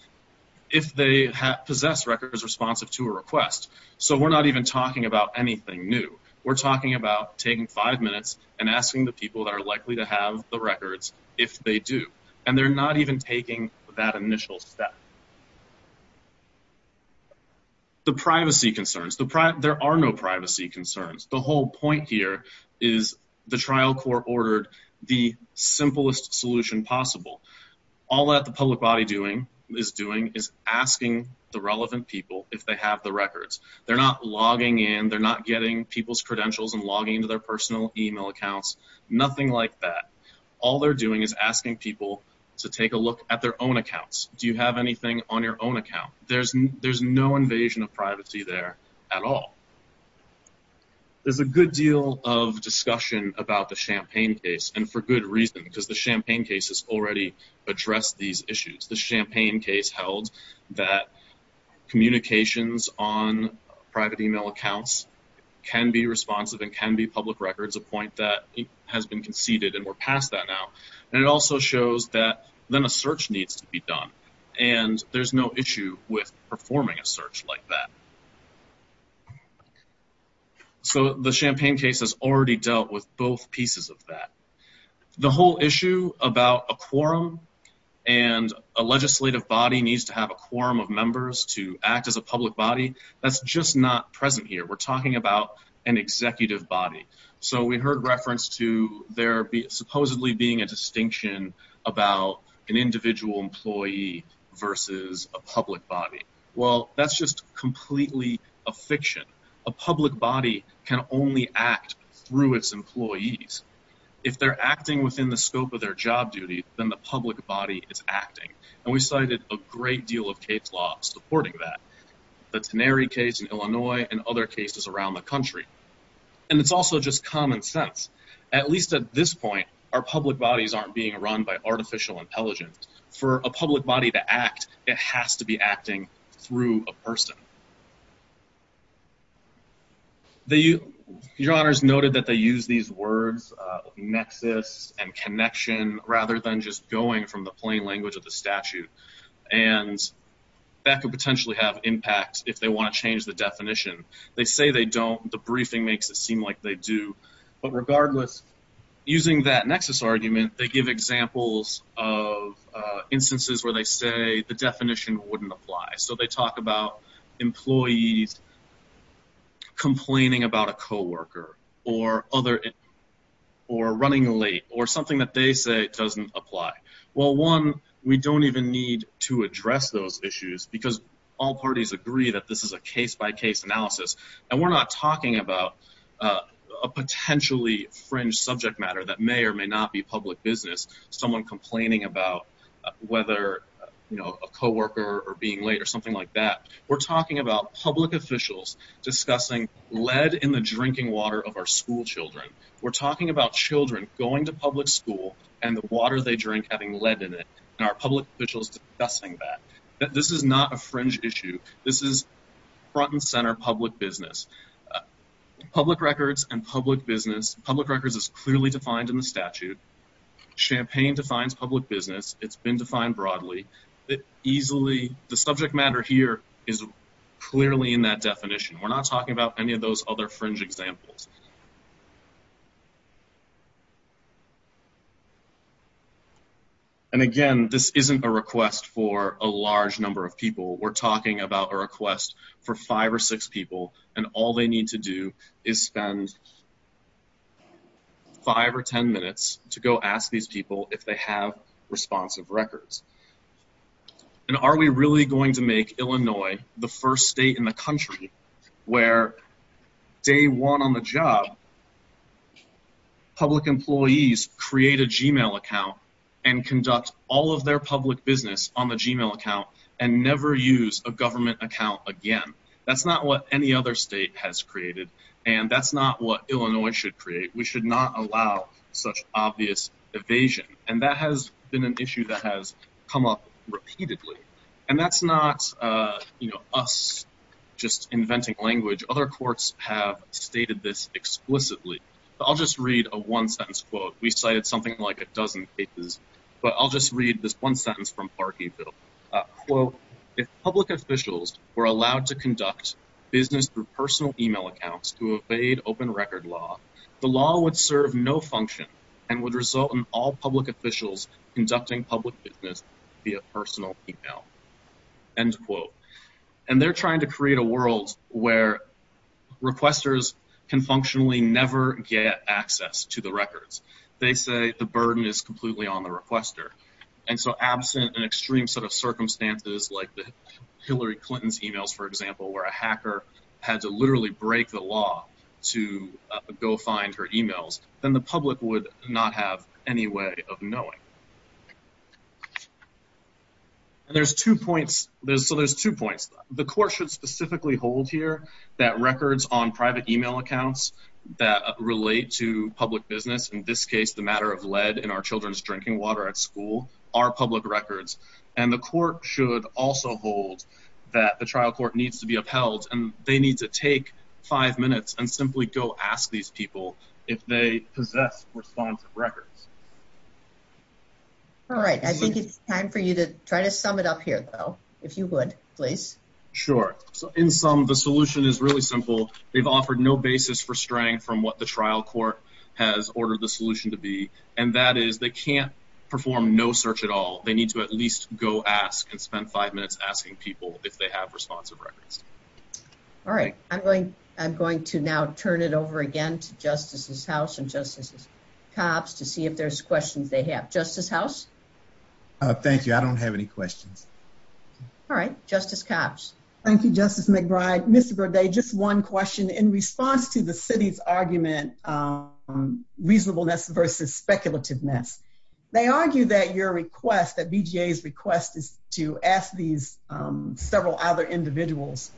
if they possess records responsive to a request. So we're not even talking about anything new. We're talking about taking five minutes and asking the people that are likely to have the records if they do. And they're not even taking that initial step. The privacy concerns. There are no privacy concerns. The whole point here is the trial court ordered the simplest solution possible. All that the public body is doing is asking the relevant people if they have the records. They're not logging in. They're not getting people's credentials and logging into their personal email accounts. Nothing like that. All they're doing is asking people to take a look at their own accounts. Do you have anything on your own account? There's no invasion of privacy there at all. There's a good deal of discussion about the Champaign case and for good reason because the Champaign case has already addressed these issues. The Champaign case held that communications on private email accounts can be responsive and can be public records, a point that has been conceded and we're past that now. And it also shows that then a search needs to be done and there's no issue with performing a search like that. So the Champaign case has already dealt with both pieces of that. The whole issue about a quorum and a legislative body needs to have a quorum of members to act as a public body, that's just not present here. We're talking about an executive body. So we heard reference to there supposedly being a distinction about an individual employee versus a public body. Well, that's just completely a fiction. A public body can only act through its employees. If they're acting within the scope of their job duties, then the public body is acting. And we cited a great deal of case law supporting that. The Teneri case in Illinois and other cases around the country. And it's also just common sense. At least at this point, our public bodies aren't being run by artificial intelligence. For a public body to act, it has to be acting through a person. Your Honor's noted that they use these words, nexus and connection, rather than just going from the plain language of the statute. And that could potentially have impact if they want to change the definition. They say they don't. The briefing makes it seem like they do. But regardless, using that nexus argument, they give examples of instances where they say the definition wouldn't apply. So they talk about employees complaining about a co-worker, or running late, or something that they say doesn't apply. Well, one, we don't even need to address those issues because all parties agree that this is a case-by-case analysis. And we're not talking about a potentially fringe subject matter that may or may not be public business. Someone complaining about whether, you know, a co-worker or being late or something like that. We're talking about public officials discussing lead in the drinking water of our schoolchildren. We're talking about children going to public school and the water they drink having lead in it. And our public officials discussing that. This is not a fringe issue. This is front and center public business. Public records and public business, public records is clearly defined in the statute. Champagne defines public business. It's been defined broadly. The subject matter here is clearly in that definition. We're not talking about any of those other fringe examples. And again, this isn't a request for a large number of people. We're talking about a request for five or six people, and all they need to do is spend five or ten minutes to go ask these people if they have responsive records. And are we really going to make Illinois the first state in the country where day one on the job, public employees create a Gmail account and conduct all of their public business on the Gmail account and never use a government account again? That's not what any other state has created. And that's not what Illinois should create. We should not allow such obvious evasion. And that has been an issue that has come up repeatedly. And that's not us just inventing language. Other courts have stated this explicitly. I'll just read a one sentence quote. We cited something like a dozen cases. But I'll just read this one sentence from Clark E. Biddle. Quote, if public officials were allowed to conduct business through personal email accounts to evade open record law, the law would serve no function and would result in all public officials conducting public business via personal email. End quote. And they're trying to create a world where requesters can functionally never get access to the records. They say the burden is completely on the requester. And so absent an extreme set of circumstances like Hillary Clinton's emails for example, where a hacker had to literally break the law to go find her emails, then the public would not have any way of knowing. There's two points. The court should specifically hold here that records on private email accounts that relate to public business in this case the matter of lead in our children's drinking water at school are public records. And the court should also hold that the trial court needs to be upheld and they need to take five minutes and simply go ask these people if they possess responsive records. All right. I think it's time for you to try to sum it up here, Bill. If you would, please. Sure. In sum, the solution is really simple. They've offered no basis for straying from what the trial court has ordered the solution to be, and that is they can't perform no search at all. They need to at least go ask and spend five minutes asking people if they have responsive records. All right. I'm going to now turn it over again to Justice House and Justice Copps to see if there's questions they have. Justice House? Thank you. I don't have any questions. All right. Justice Copps. Thank you, Justice McBride. Mr. Burdett, just one question. In response to the city's argument on reasonableness versus speculativeness, they argue that your request, that BJA's request is to ask these several other individuals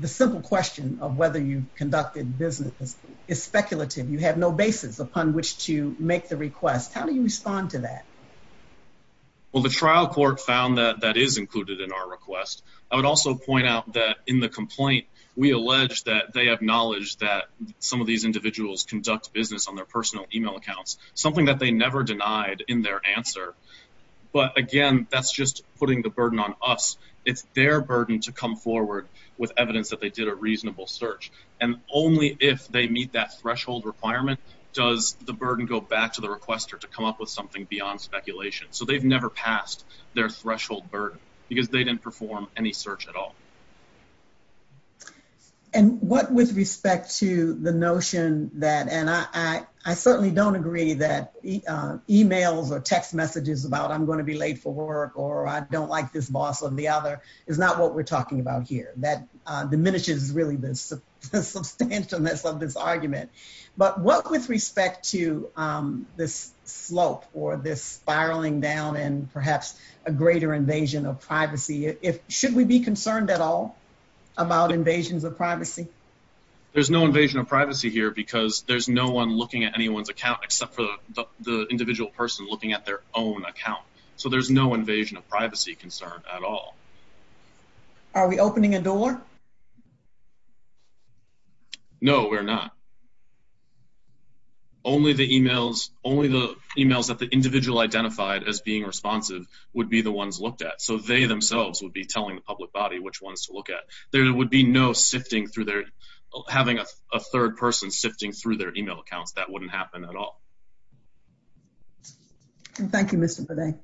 the simple question of whether you've conducted business is speculative. You have no basis upon which to make the request. How do you respond to that? Well, the trial court found that that is included in our request. I would also point out that in the complaint we allege that they acknowledge that some of these individuals conduct business on their personal email accounts, something that they never denied in their answer. But again, that's just putting the burden on us. It's their burden to come forward with evidence that they did a reasonable search. And only if they meet that threshold requirement does the burden go back to the requester to come up with something beyond speculation. So they've never passed their threshold burden because they didn't perform any search at all. And what with respect to the notion that, and I certainly don't agree that emails or text messages about I'm going to be late for work or I don't like this boss or the other is not what we're talking about here. That diminishes really the substantialness of this argument. But what with respect to this spiraling down and perhaps a greater invasion of privacy. Should we be concerned at all about invasions of privacy? There's no invasion of privacy here because there's no one looking at anyone's account except for the individual person looking at their own account. So there's no invasion of privacy concern at all. Are we opening a door? No, we're not. Only the emails that the individual identified as being responsive would be the ones looked at. So they themselves would be telling the public body which ones to look at. There would be no sifting through their, having a third person sifting through their email account. That wouldn't happen at all. Thank you Mr. Burdett.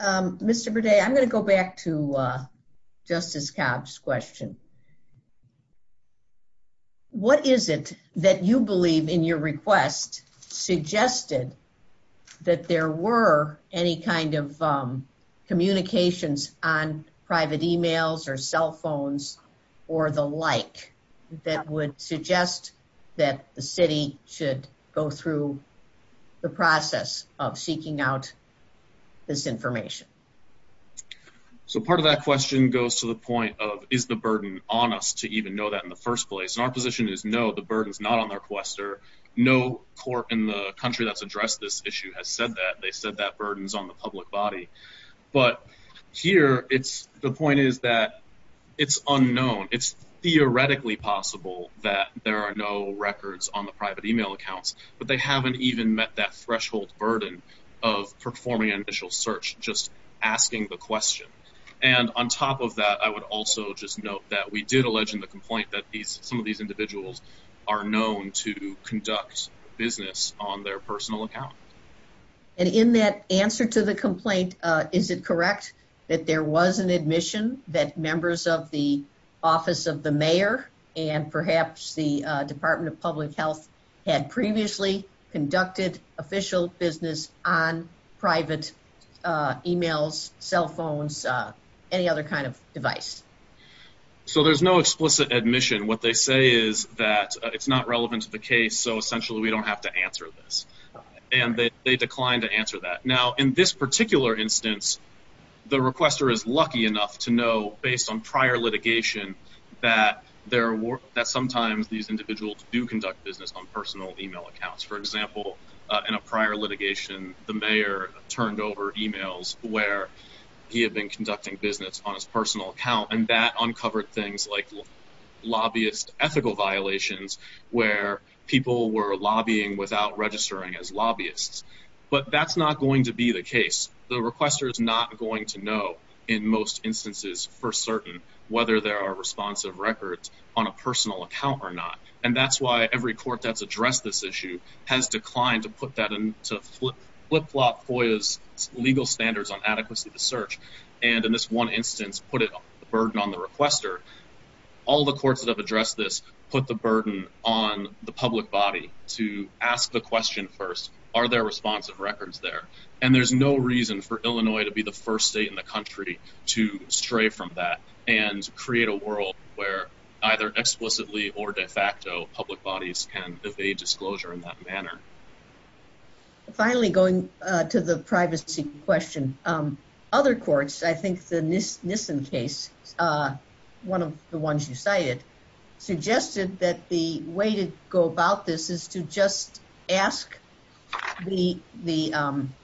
Mr. Burdett, I'm going to go back to Justice Cobb's question. What is it that you believe in your request suggested that there were any kind of communications on private emails or cell phones or the like that would suggest that the city should go through the process of seeking out this information? So part of that question goes to the point of is the burden on us to even know that in the first place? Our position is no, the burden is not on the requester. No court in the country that's addressed this issue has said that. They said that burden is on the public body. But here the point is that it's unknown. It's theoretically possible that there are no records on the private email accounts, but they haven't even met that threshold burden of performing an initial search, just asking the question. And on top of that, I would also just note that we did allege in the complaint that some of these individuals are known to conduct business on their personal account. And in that answer to the complaint, is it correct that there was an admission that members of the Office of the Mayor and perhaps the Department of Public Health had previously conducted official business on private emails, cell phones, any other kind of device? So there's no explicit admission. What they say is that it's not relevant to the case, so essentially we don't have to answer this. And they declined to answer that. Now, in this particular instance, the requester is lucky enough to know, based on prior litigation, that sometimes these individuals do conduct business on personal email accounts. For example, in a prior litigation, the mayor turned over emails where he had been conducting business on his personal account, and that uncovered things like lobbyist ethical violations, where people were lobbying without registering as lobbyists. But that's not going to be the case. The requester is not going to know in most instances for certain whether there are responsive records on a personal account or not. And that's why every court that's addressed this issue has declined to put that into flip-flop FOIA's because they don't have legal standards on adequacy of the search. And in this one instance, put a burden on the requester. All the courts that have addressed this put the burden on the public body to ask the question first, are there responsive records there? And there's no reason for Illinois to be the first state in the country to stray from that and create a world where either explicitly or de facto public bodies can evade disclosure in that manner. Finally, going to the privacy question. Other courts, I think the Nissen case one of the ones you cited suggested that the way to go about this is to just ask the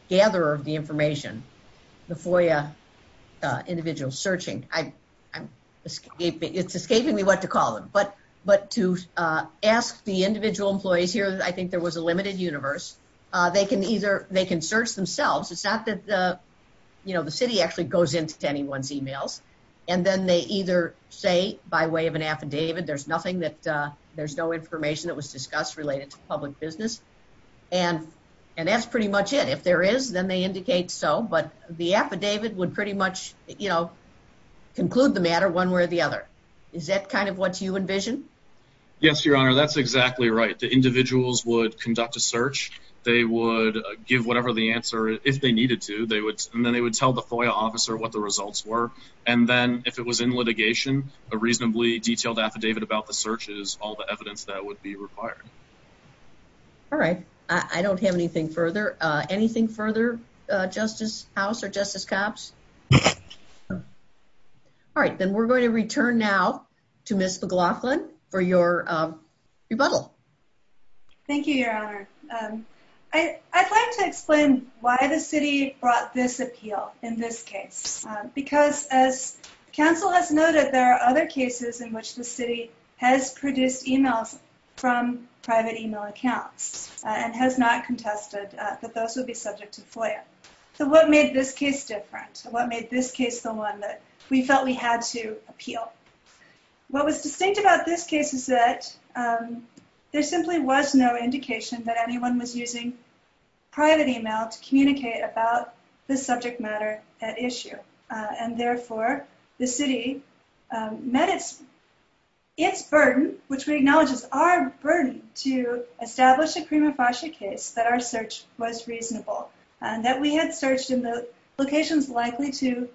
gatherer of the information, the FOIA individual searching. It's escaping me what to call it. But to ask the So, it's a limited universe. They can search themselves. It's not that the city actually goes into anyone's e-mails. And then they either say by way of an affidavit there's nothing that, there's no information that was discussed related to public business. And that's pretty much it. If there is, then they indicate so. But the affidavit would pretty much conclude the matter one way or the other. Is that kind of what you envision? Yes, Your Honor. That's exactly right. The individuals would conduct a search. They would give whatever the answer, if they needed to. And then they would tell the FOIA officer what the results were. And then, if it was in litigation, a reasonably detailed affidavit about the search is all the evidence that would be required. Alright. I don't have anything further. Anything further, Justice House or Justice Copps? Alright. Then we're going to return now to Ms. McLaughlin for your rebuttal. Thank you, Your Honor. I'd like to explain why the city brought this appeal in this case. Because, as counsel has noted, there are other cases in which the city has produced e-mails from private e-mail accounts and has not contested that those would be subject to FOIA. So what made this case different? What made this case the one that we felt we had to appeal? What was distinct about this case is that there simply was no indication that anyone was using private e-mail to communicate about this subject matter, that issue. And therefore, the city met its burden, which we acknowledge is our burden, to establish a prima facie case that our search was reasonable. That we had searched in the locations likely to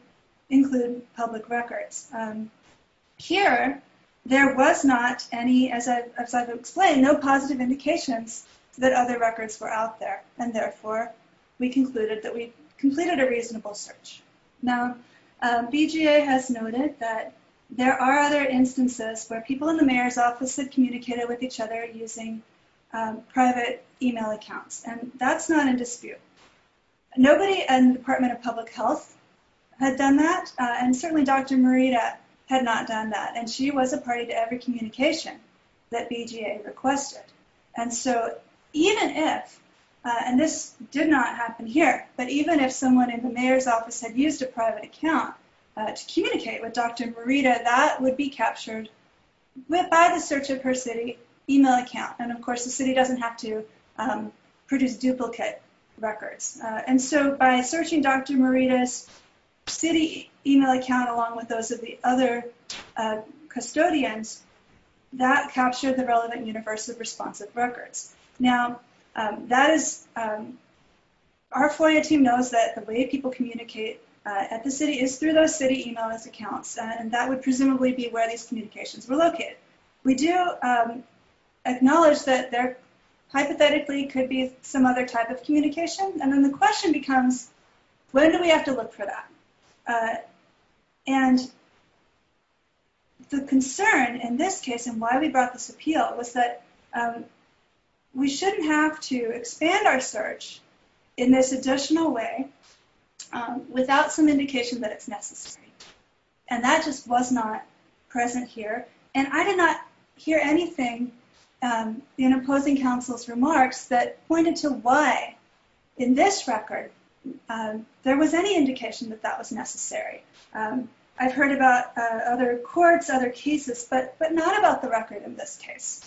include public records. Here, there was not any, as I've explained, no positive indications that other records were out there. And therefore, we concluded that we completed a reasonable search. Now, BGA has noted that there are other instances where people in the mayor's office had communicated with each other using private e-mail accounts, and that's not a dispute. Nobody in the Department of Public Health had done that, and certainly Dr. Morita had not done that, and she was a party to every communication that BGA requested. And so, even if, and this did not happen here, but even if someone in the mayor's office had used a private account to communicate with Dr. Morita, that would be captured by the search of her city e-mail account. And of course, the city doesn't have to produce duplicate records. And so, by searching Dr. Morita's city e-mail account along with those of the other custodians, that captured the relevant universal responsive records. Now, that is, our FOIA team knows that the way people communicate at the city is through those city e-mail accounts, and that would presumably be where these communications were So, we do acknowledge that there hypothetically could be some other type of communication, and then the question becomes, when do we have to look for that? And the concern in this case, and why we brought this appeal, was that we shouldn't have to expand our search in this additional way without some indication that it's necessary. And that just was not present here, and I did not hear anything in opposing counsel's remarks that pointed to why in this record there was any indication that that was necessary. I've heard about other courts, other cases, but not about the record in this case.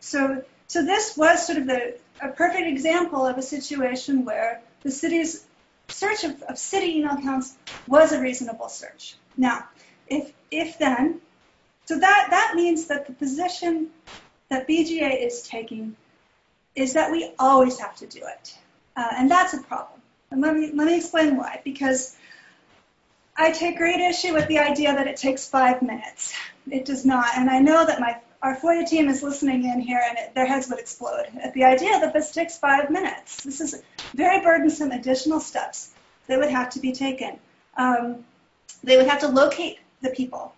So, this was sort of a perfect example of a situation where the city's search of city e-mail accounts was a reasonable search. Now, if then, so that means that the position that BGA is taking is that we always have to do it. And that's a problem, and let me explain why, because I take great issue with the idea that it takes five minutes. It does not, and I know that our FOIA team is listening in here, and their heads would explode at the idea that this takes five minutes. This is very burdensome additional steps that would have to be taken. They would have to locate the people.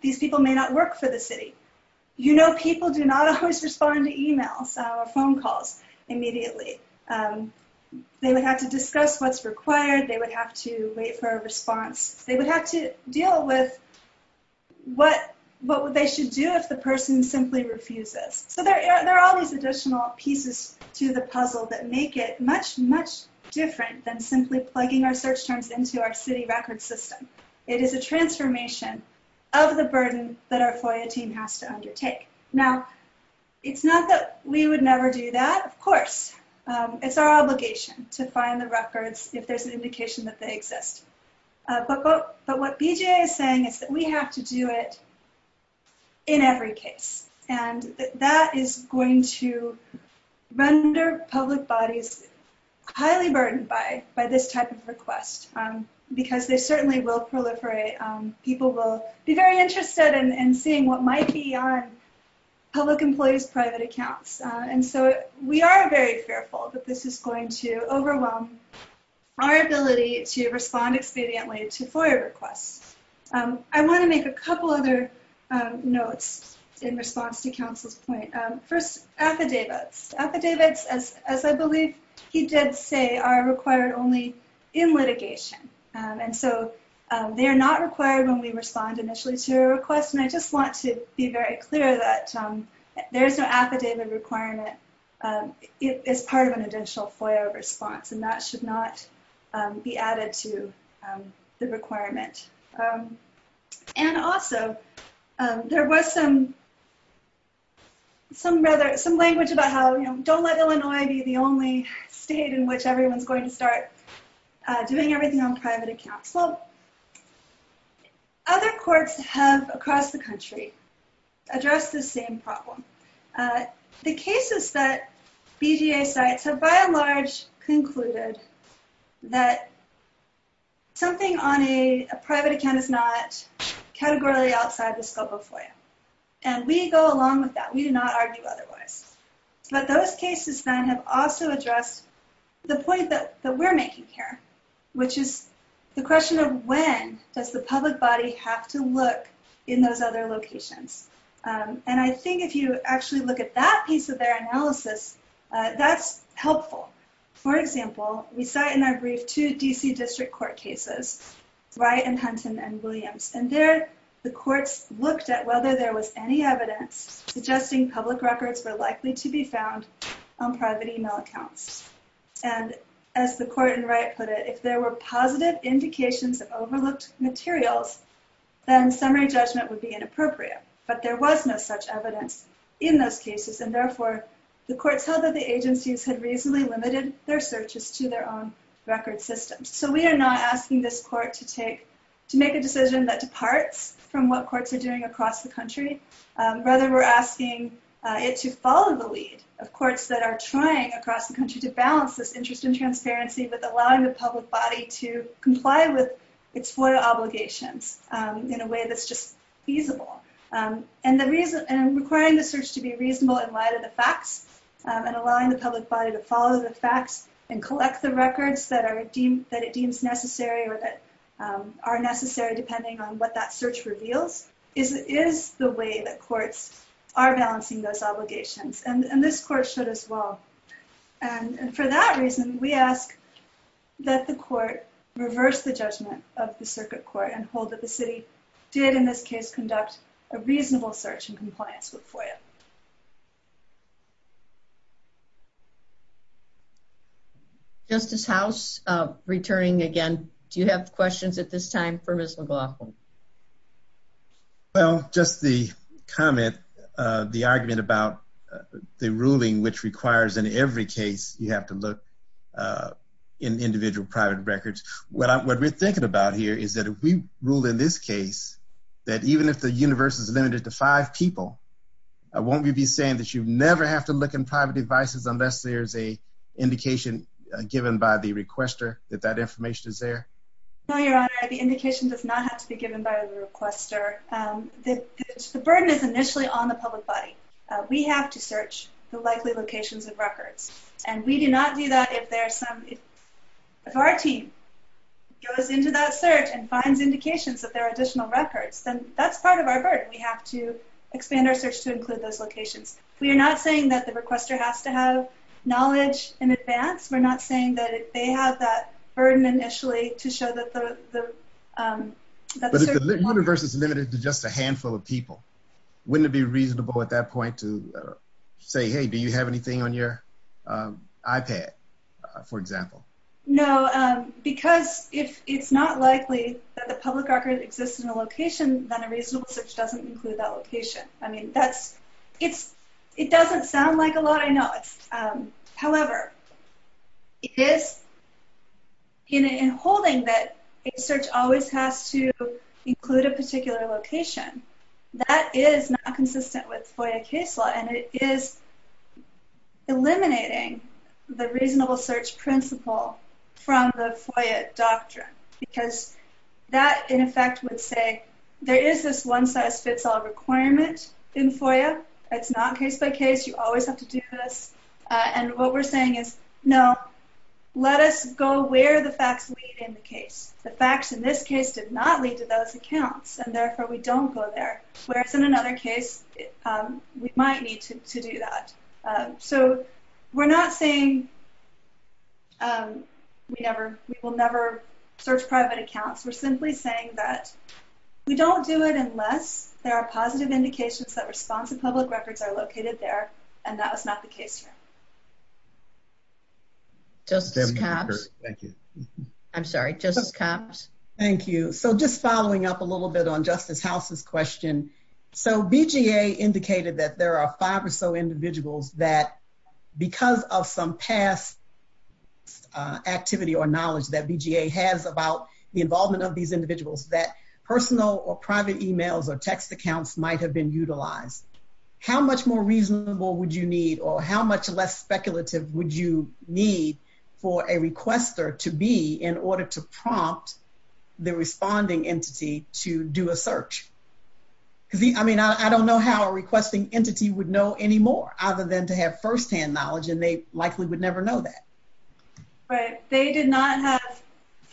These people may not work for the city. You know people do not always respond to e-mails or phone calls immediately. They would have to discuss what's required. They would have to wait for a response. They would have to deal with what they should do if the person simply refuses. So there are always additional pieces to the puzzle that make it much, much different than simply plugging our search terms into our city record system. It is a transformation of the burden that our FOIA team has to undertake. Now, it's not that we would never do that. Of course. It's our obligation to find the records if there's an indication that they exist. But what BGA is saying is that we have to do it in every case. And that is going to render public bodies highly burdened by this type of request. Because they certainly will proliferate. People will be very interested in seeing what might be on public employees' private accounts. And so we are very careful that this is going to overwhelm our ability to respond expediently to FOIA requests. I want to make a couple other notes in response to Council's point. First, affidavits. Affidavits, as I believe he did say, are required only in litigation. They are not required when we respond initially to a request. I just want to be very clear that there is an affidavit requirement as part of an additional FOIA response. That should not be added to the requirement. And also, there was some language about how don't let Illinois be the only state in which everyone is going to start doing everything on private accounts. Well, other courts have, across the country, addressed this same problem. The cases that BJA cites have by and large concluded that something on a private account is not categorically outside the scope of FOIA. And we go along with that. We do not argue otherwise. But those cases, then, have also addressed the point that we're making here, which is the question of when does the public body have to look in those other locations? And I think if you actually look at that piece of their analysis, that's helpful. For example, we cite in our brief two D.C. District Court cases, Wright and Huntsman and Williams. And there, the courts looked at whether there was any evidence suggesting public records were likely to be found on private email accounts. And, as the court in Wright put it, if there were positive indications of overlooked materials, then summary judgment would be inappropriate. But there was no such evidence in those cases. And therefore, the courts held that the agencies had reasonably limited their searches to their own record systems. So we are not asking this court to make a decision that departs from what courts are doing across the country. Rather, we're asking it to follow the lead of courts that are trying across the country to balance this interest in transparency with allowing the public body to comply with its FOIA obligations in a way that's just feasible. And requiring the search to be reasonable in light of the facts, and allowing the public body to follow the facts and collect the records that it believes necessary or that are necessary depending on what that search reveals, is the way that courts are balancing those obligations. And this court should as well. And for that reason, we ask that the court reverse the judgment of the circuit court and hold that the city did, in this case, conduct a reasonable search in compliance with FOIA. Justice House, returning again, do you have questions at this time for Ms. McLaughlin? Well, just the comment, the argument about the ruling which requires in every case you have to look in individual private records. What we're thinking about here is that that even if the universe is limited to five people, we're not going to be able to look in private devices unless there's a indication given by the requester that that information is there. No, Your Honor, the indication does not have to be given by the requester. The burden is initially on the public body. We have to search the likely locations of records. And we do not do that if there's some if our team goes into that search and finds indications that there are additional records, then that's part of our burden. We have to expand our search to include those locations. We're not saying that the requester has to have knowledge in advance. We're not saying that they have that burden initially to show that the search is limited. But if the universe is limited to just a handful of people, wouldn't it be reasonable at that point to say, hey, do you have anything on your iPad, for example? No, because it's not likely that the public records exist in a location, then a reasonable search doesn't include that location. It doesn't sound like a lot, I know. However, it is in holding that a search always has to include a particular location, that is not consistent with FOIA case law and it is eliminating the reasonable search principle from the FOIA doctrine because that, in effect, would say there is this one-size-fits-all requirement in FOIA. It's not case-by-case. You always have to do this. And what we're saying is, no, let us go where the facts lead in the case. The facts in this case did not lead to those accounts and therefore we don't go there. Where it's in another case, we might need to do that. So we're not saying we will never search private accounts. We're simply saying that we don't do it unless there are positive indications that responsive public records are located there and that was not the case here. Thank you. I'm sorry. Thank you. So just following up a little bit on Justice House's question, so BGA indicated that there are five or so individuals that because of some past activity or knowledge that BGA has about the involvement of these individuals that personal or private emails or text accounts might have been utilized. How much more reasonable would you need or how much less speculative would you need for a requester to be in order to prompt the responding entity to do a search? I don't know how a requesting entity would know any more other than to have first-hand knowledge and they likely would never know that. They did not have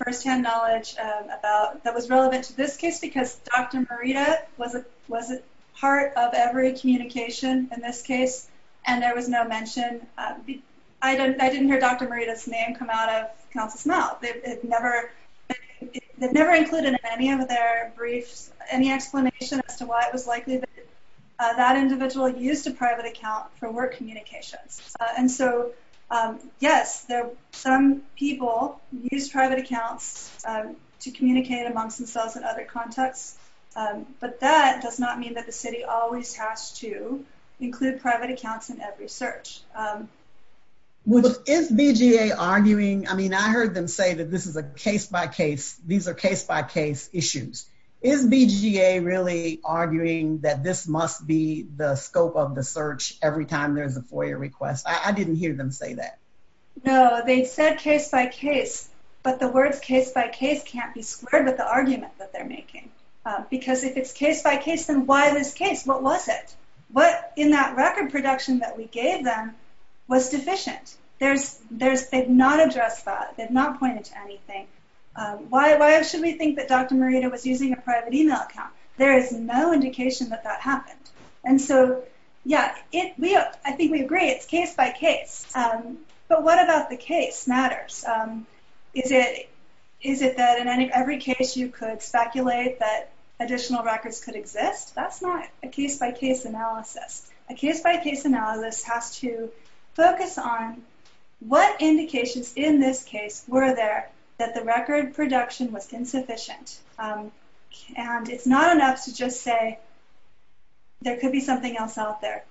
first-hand knowledge that was relevant to this case because Dr. Morita was a part of every communication in this case and there was no mention I didn't hear Dr. Morita's name come out of counsel's mouth. It never included in any of their briefs any explanation as to why it was likely that that individual used a private account for work or communication. Yes, some people use private accounts to communicate amongst themselves in other contexts but that does not mean that the city always has to include private accounts in every search. Is BGA arguing, I mean I heard them say that this is a case-by-case these are case-by-case issues. Is BGA really arguing that this must be the case-by-case? No, they said case-by-case but the words case-by-case can't be squared with the argument that they're making because if it's case-by-case then why this case? What was it? What in that record production that we gave them was deficient? They've not addressed that. They've not pointed to anything. Why should we think that Dr. Morita was using a private email account? There is no indication that that happened. And so, yeah I think we agree it's case-by-case but what about the case matters? Is it that in every case you could speculate that additional records could exist? That's not a case-by-case analysis. A case-by-case analysis has to focus on what indications in this case were there that the record production was insufficient? And it's not enough to just say there could be something else out there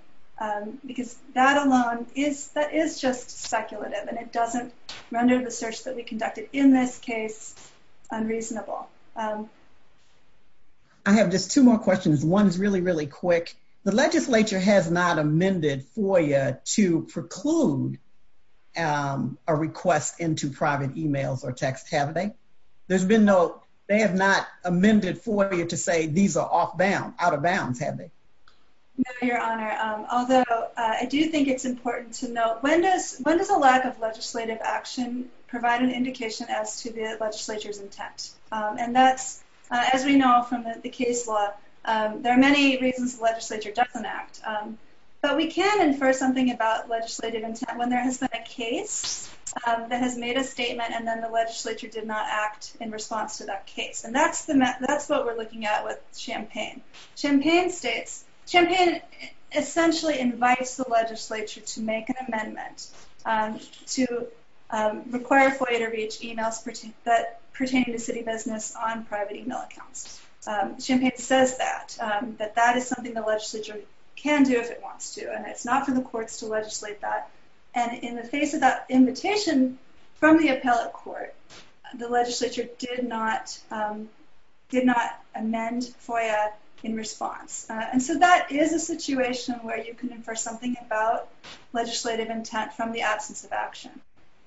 because that alone is just speculative and it doesn't render the search that we conducted in this case unreasonable. I have just two more questions. One's really, really quick. The legislature has not amended FOIA to preclude a request into private emails or texts, have they? There's been no, they have not amended FOIA to say these are off-bound, out-of-bounds, have they? No, Your Honor. Although, I do think it's important to note when does a lack of legislative action provide an indication as to the legislature's intent? And that's, as we know from the case law, there are many reasons the legislature doesn't act. But we can infer something about legislative intent when there has been a case that has made a statement and then the legislature did not act in response to that case. And that's what we're looking at with Champaign. Champaign states, Champaign essentially invites the legislature to make an amendment to require FOIA to reach emails pertaining to city business on private email accounts. Champaign says that, that that is something the legislature can do if it wants to and it's not for the courts to legislate that. And in the face of that invitation from the appellate court, the legislature did not amend FOIA in response. And so that is a situation where you can infer something about legislative intent from the absence of action.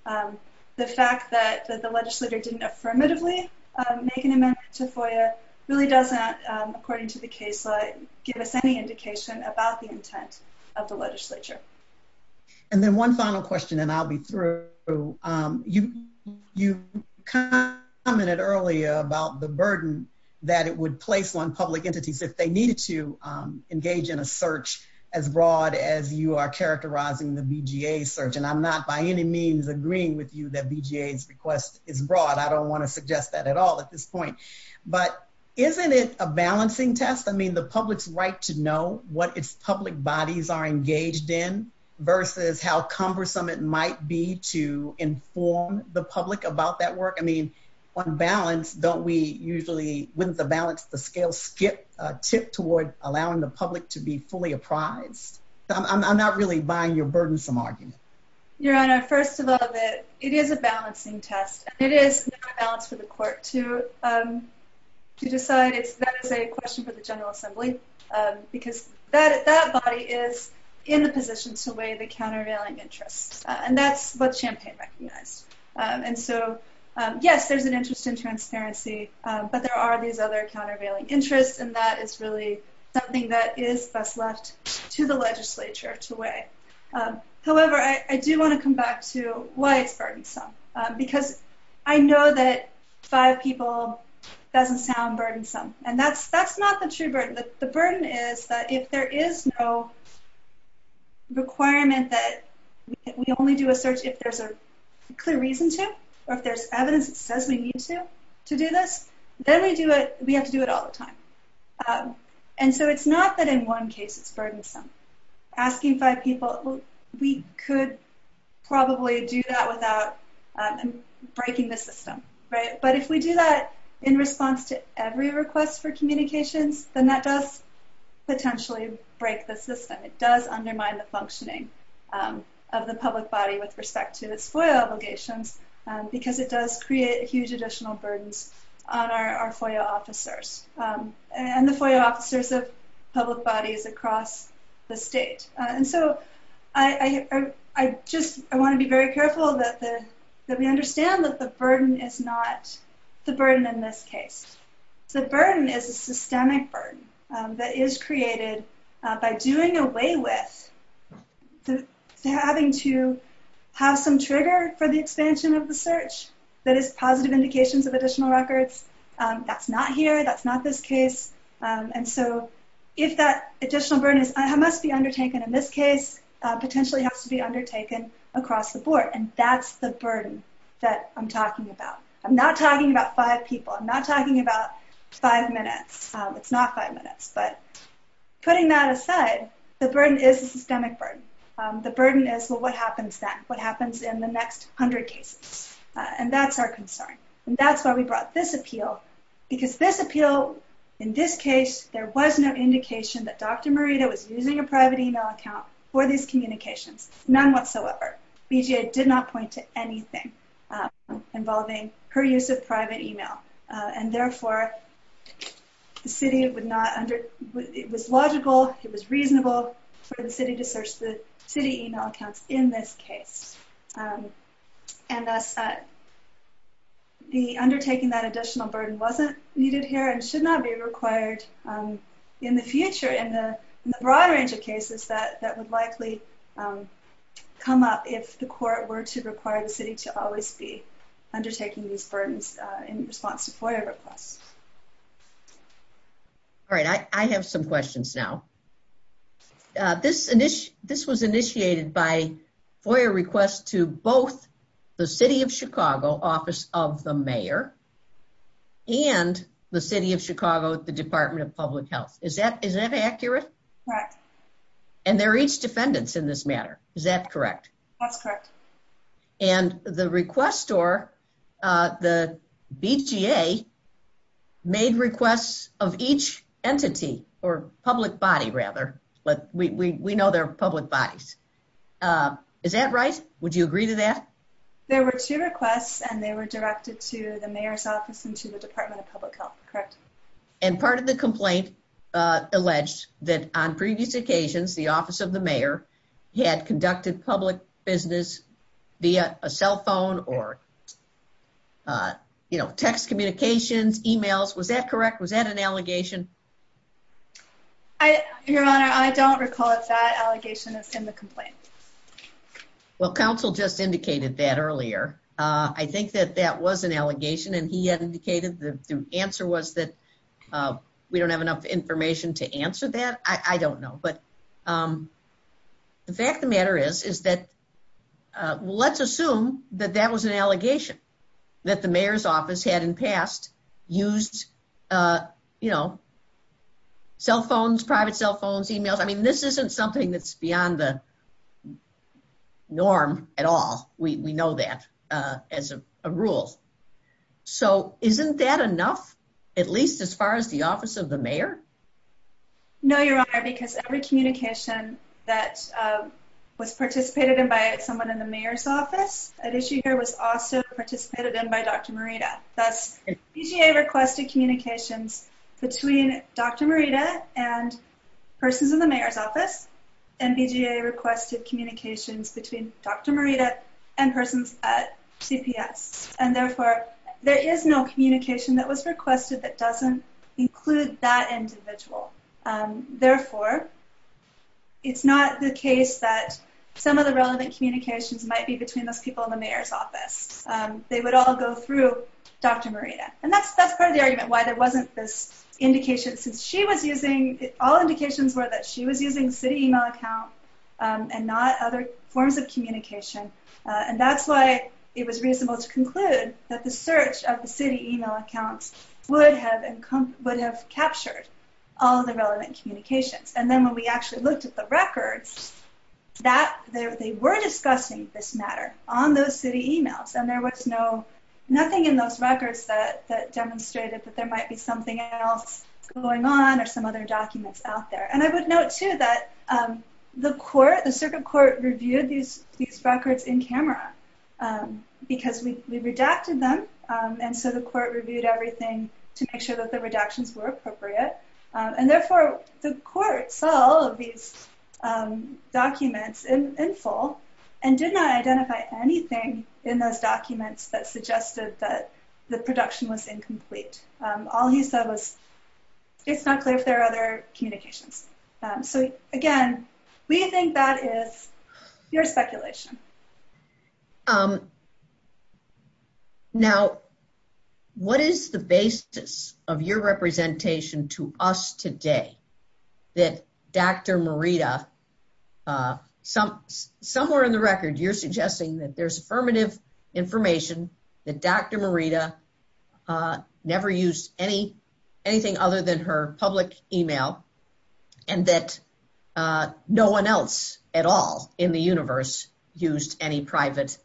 The fact that the legislature didn't affirmatively make an amendment to FOIA really doesn't according to the case law give us any indication about the intent of the legislature. And then one final question and I'll be through. You commented earlier about the burden that it would place on public entities if they needed to engage in a search as broad as you are characterizing the BGA search. And I'm not by any means agreeing with you that BGA's request is broad. I don't want to suggest that at all at this point. But isn't it a balancing test? I mean the public's right to know what its public bodies are engaged in versus how cumbersome it might be to inform the public about that work. I mean on balance don't we usually wouldn't the balance of the scale tip towards allowing the public to be fully apprised? I'm not really buying your burdensome argument. Your Honor, first of all it is a balancing test. It is a balance for the court to decide if that is a question for the General Assembly because that body is in the position to weigh the countervailing interest. And that's what Champaign recognized. And so yes, there's an interest in transparency but there are these other countervailing interests and that is really something that is best left to the legislature to weigh. However I do want to come back to why it's burdensome because I know that five people doesn't sound burdensome and that's not the true burden. The burden is that if there is no requirement that we only do a search if there's a clear reason to or if there's evidence that says we need to do this then we have to do it all the time. And so it's not that in one case it's burdensome. Asking five people we could probably do that without breaking the system. But if we do that in response to every request for communications then that does potentially break the system. It does undermine the functioning of the public body with respect to FOIA obligations because it does create additional burdens on our FOIA officers. And the FOIA officers of public bodies across the state. And so I just want to be very careful that we understand that the burden is not the burden in this case. The burden is a systemic burden that is created by doing away with having to have some trigger for the expansion of the search that is positive indications of additional records that's not here, that's not this case. And so if that additional burden must be undertaken in this case potentially has to be undertaken across the board. And that's the burden that I'm talking about. I'm not talking about five people. I'm not talking about five minutes. It's not five minutes. But putting that aside, the burden is a systemic burden. The burden is well what happens then? What happens in the next hundred cases? And that's our concern. And that's why we brought this appeal because this appeal in this case there was no indication that Dr. Morita was using a private email account for these communications. None whatsoever. BJA did not point to anything involving her use of private email. And therefore the city would not under it was logical, it was reasonable for the city to search the city email accounts in this case. And that's that the undertaking that additional burden wasn't needed here and should not be required in the future in the broad range of cases that would likely come up if the court were to require the city to always be undertaking these burdens in response to FOIA requests. Alright, I have some questions now. This was initiated by FOIA requests to both the City of Chicago Office of the Mayor and the City of Chicago Department of Public Health. Is that accurate? Correct. And they're each defendants in this matter. Is that correct? That's correct. And the request or the BJA made requests of each entity, or public body rather, but we know they're public bodies. Is that right? Would you agree to that? There were two requests and they were directed to the Mayor's office and to the Department of Public Health. Correct. And part of the complaint alleged that on previous occasions, the Office of the Mayor had conducted public business via a cell phone or text communications, emails. Was that correct? Was that an allegation? Your Honor, I don't recall if that allegation is in the complaint. Well, counsel just indicated that earlier. I think that that was an allegation and he had indicated that the answer was that we don't have enough information to answer that. I don't know, but the fact of the matter is that let's assume that that was an allegation that the Mayor's office had in the past used cell phones, private cell phones, emails. I mean, this isn't something that's beyond the norm at all. We know that as a rule. So, isn't that enough, at least as far as the Office of the Mayor? No, Your Honor, because every communication that was participated in by someone in the Mayor's office, an issue here was also participated in by Dr. Morita. BJA requested communications between Dr. Morita and persons in the Mayor's office and BJA requested communications between Dr. Morita and persons at CPS. And therefore, there is no communication that was requested that doesn't include that individual. Therefore, it's not the case that some of the relevant communications might be between those people in the Mayor's office. They would all go through Dr. Morita. And that's part of the argument, why there wasn't this indication since she was using, all indications were that she was using city email accounts and not other forms of communication. And that's why it was reasonable to conclude that the search of the city email accounts would have captured all the relevant communications. And then when we actually looked at the records, they were discussing this matter on those city emails and there was nothing in those records that demonstrated that there might be something else going on or some other documents out there. And I would note, too, that the circuit court reviewed these records in camera because we redacted them and so the court reviewed everything to make sure that the redactions were appropriate. And therefore, the court saw all of these documents in full and did not identify anything in those documents that suggested that the production was incomplete. All he said was it's not clear if there are other communications. So again, we think that this is your speculation. Now, what is the basis of your representation to us today that Dr. Merida somewhere in the records you're suggesting that there's affirmative information that Dr. Merida never used anything other than her public email and that no one else at all in the universe used any private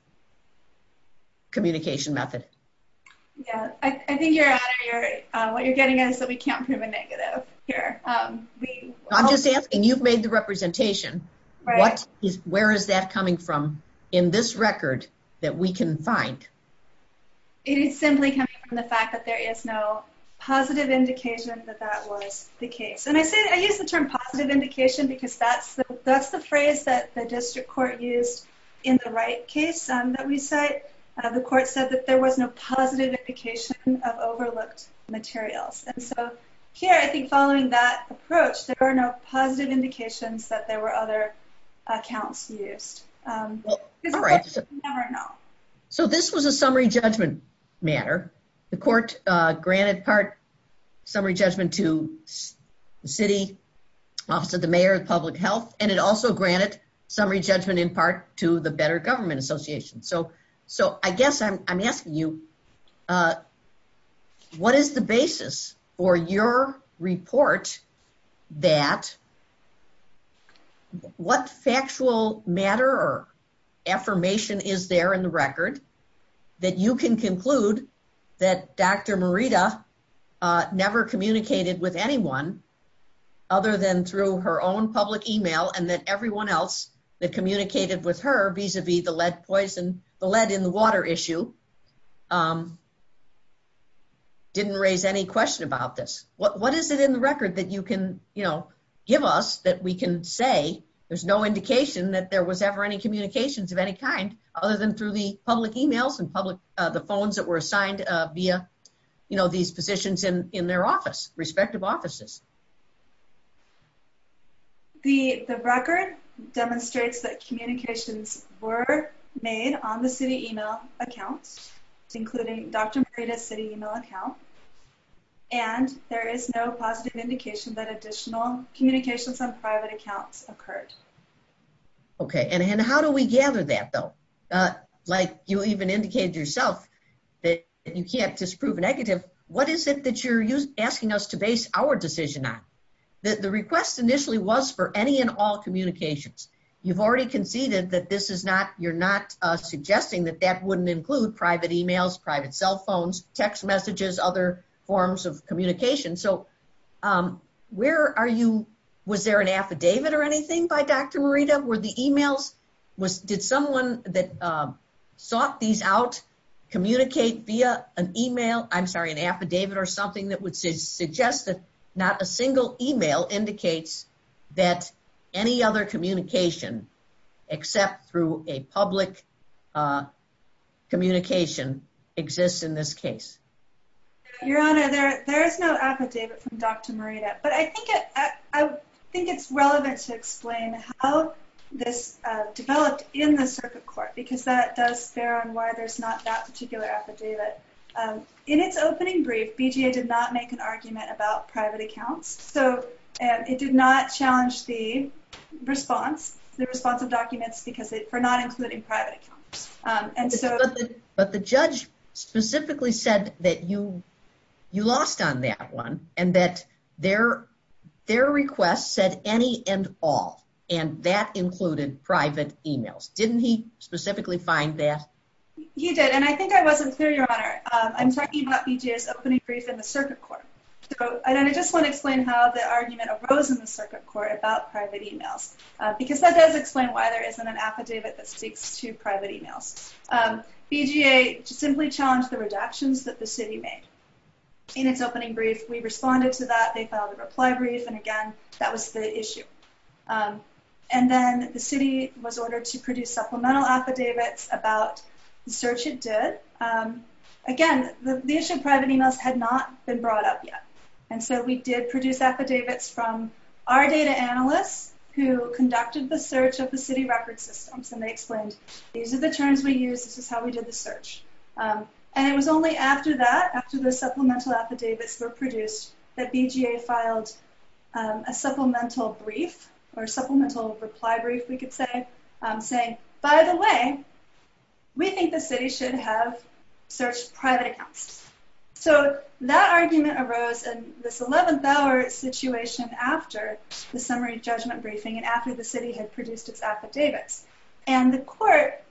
communication method? I think what you're getting at is that we can't prove a negative here. I'm just asking, you've made the representation. Where is that coming from in this record that we can find? It is simply coming from the fact that there is no positive indication that that was the case. I use the term positive indication because that's the phrase that the district court used in the right case that we cite. The court said that there was no positive indication of overlooked materials. So here, I think following that approach, there are no positive indications that there were other accounts used. So this was a summary judgment matter. The court granted part summary judgment to the city, also the mayor, public health, and it also granted summary judgment in part to the Better Government Association. I guess I'm asking you, what is the basis for your report that what factual matter or affirmation is there in the record that you can conclude that Dr. Morita never communicated with anyone other than through her own public email and that everyone else that communicated with her vis-a-vis the lead in the water issue didn't raise any question about this? What is it in the record that you can give us that we can say there's no indication that there was ever any communications of any kind other than through the public emails and public, the phones that were assigned via, you know, these positions in their office, respective offices? The record demonstrates that communications were made on the city email account including Dr. Morita's city email account and there is no positive indication that additional communications on private accounts occurred. Okay, and how do we gather that though? Like you even indicated yourself that you can't disprove negative. What is it that you're asking us to base our decision on? The request initially was for any and all communications. You've already conceded that this is not, you're not suggesting that that wouldn't include private emails, private cell phones, text messages, other forms of communication. So where are you was there an affidavit or anything by Dr. Morita? Were the emails was, did someone that sought these out communicate via an email I'm sorry, an affidavit or something that would suggest that not a single email indicates that any other communication except through a public communication exists in this case? Your Honor, there is no affidavit from Dr. Morita, but I think it's relevant to explain how this developed in the circuit court because that does bear on why there's not that particular affidavit. In its opening brief, BGA did not make an argument about private accounts so it did not challenge the response the response of documents for not including private accounts. But the judge specifically said that you lost on that one and that their request said any and all and that included private emails. Didn't he specifically find that? You did and I think I wasn't clear, Your Honor. I'm talking about BGA's opening brief in the circuit court and I just want to explain how the argument arose in the circuit court about private emails because that does explain why there isn't an affidavit that speaks to private emails. BGA simply challenged the redactions that the city made in its opening brief. We responded to that. They filed a reply brief and again that was the issue. And then the city was ordered to produce supplemental affidavits about the search it did. Again, the issue of private emails had not been brought up yet and so we did produce affidavits from our data analysts who conducted the search of the city record systems and they explained these are the terms we used this is how we did the search. And it was only after that, after the BGA filed a supplemental brief or supplemental reply brief, we could say saying, by the way we think the city should have searched private accounts. So that argument arose in this 11th hour situation after the summary judgment briefing and after the city had produced its affidavits. And the court,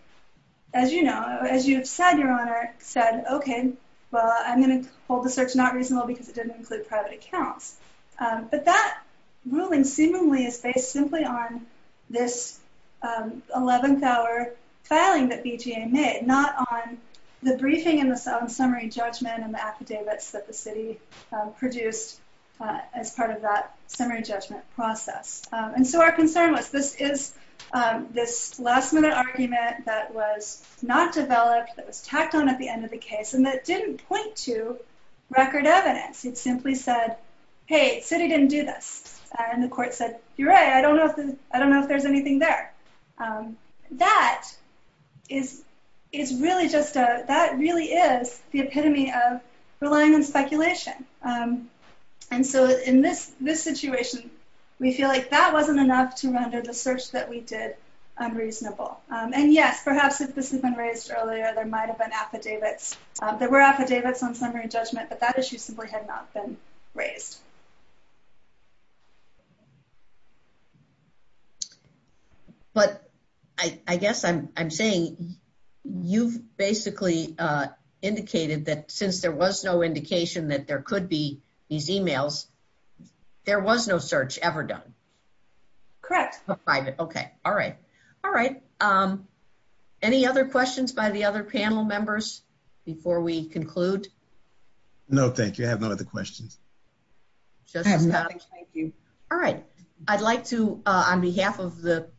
as you know or as you have said, Your Honor, said, okay, well I'm going to hold the search not reasonable because it didn't include private accounts. But that ruling seemingly is based simply on this 11th hour filing that BGA made, not on the briefing and the summary judgment and the affidavits that the city produced as part of that summary judgment process. And so our concern was this is this last minute argument that was not developed that was tacked on at the end of the case and that didn't point to record evidence. It simply said hey, the city didn't do this. And the court said, you're right, I don't know if there's anything there. That is really just a that really is the epitome of relying on speculation. And so in this situation, we feel like that wasn't enough to render the search that we did unreasonable. And yes, perhaps if this had been raised earlier there might have been affidavits there were affidavits on summary judgment but that issue simply had not been raised. But I guess I'm saying you basically indicated that since there was no indication that there could be these emails, there was no search ever done. Correct. Alright. Any other questions by the other panel members before we conclude? No, thank you. I have no other questions. Thank you. I'd like to, on behalf of the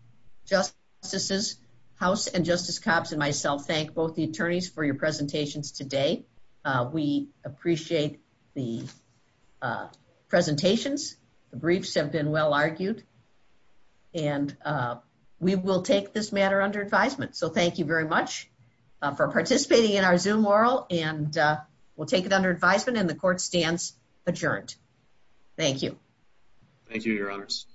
Justice's House and Justice Copps and myself, thank both the attorneys for your presentations today. We appreciate the presentations. The briefs have been well argued. And we will take this matter under advisement. So thank you very much for participating in our Zoom oral and we'll take it under advisement and the court stands adjourned. Thank you. Thank you, Your Honors.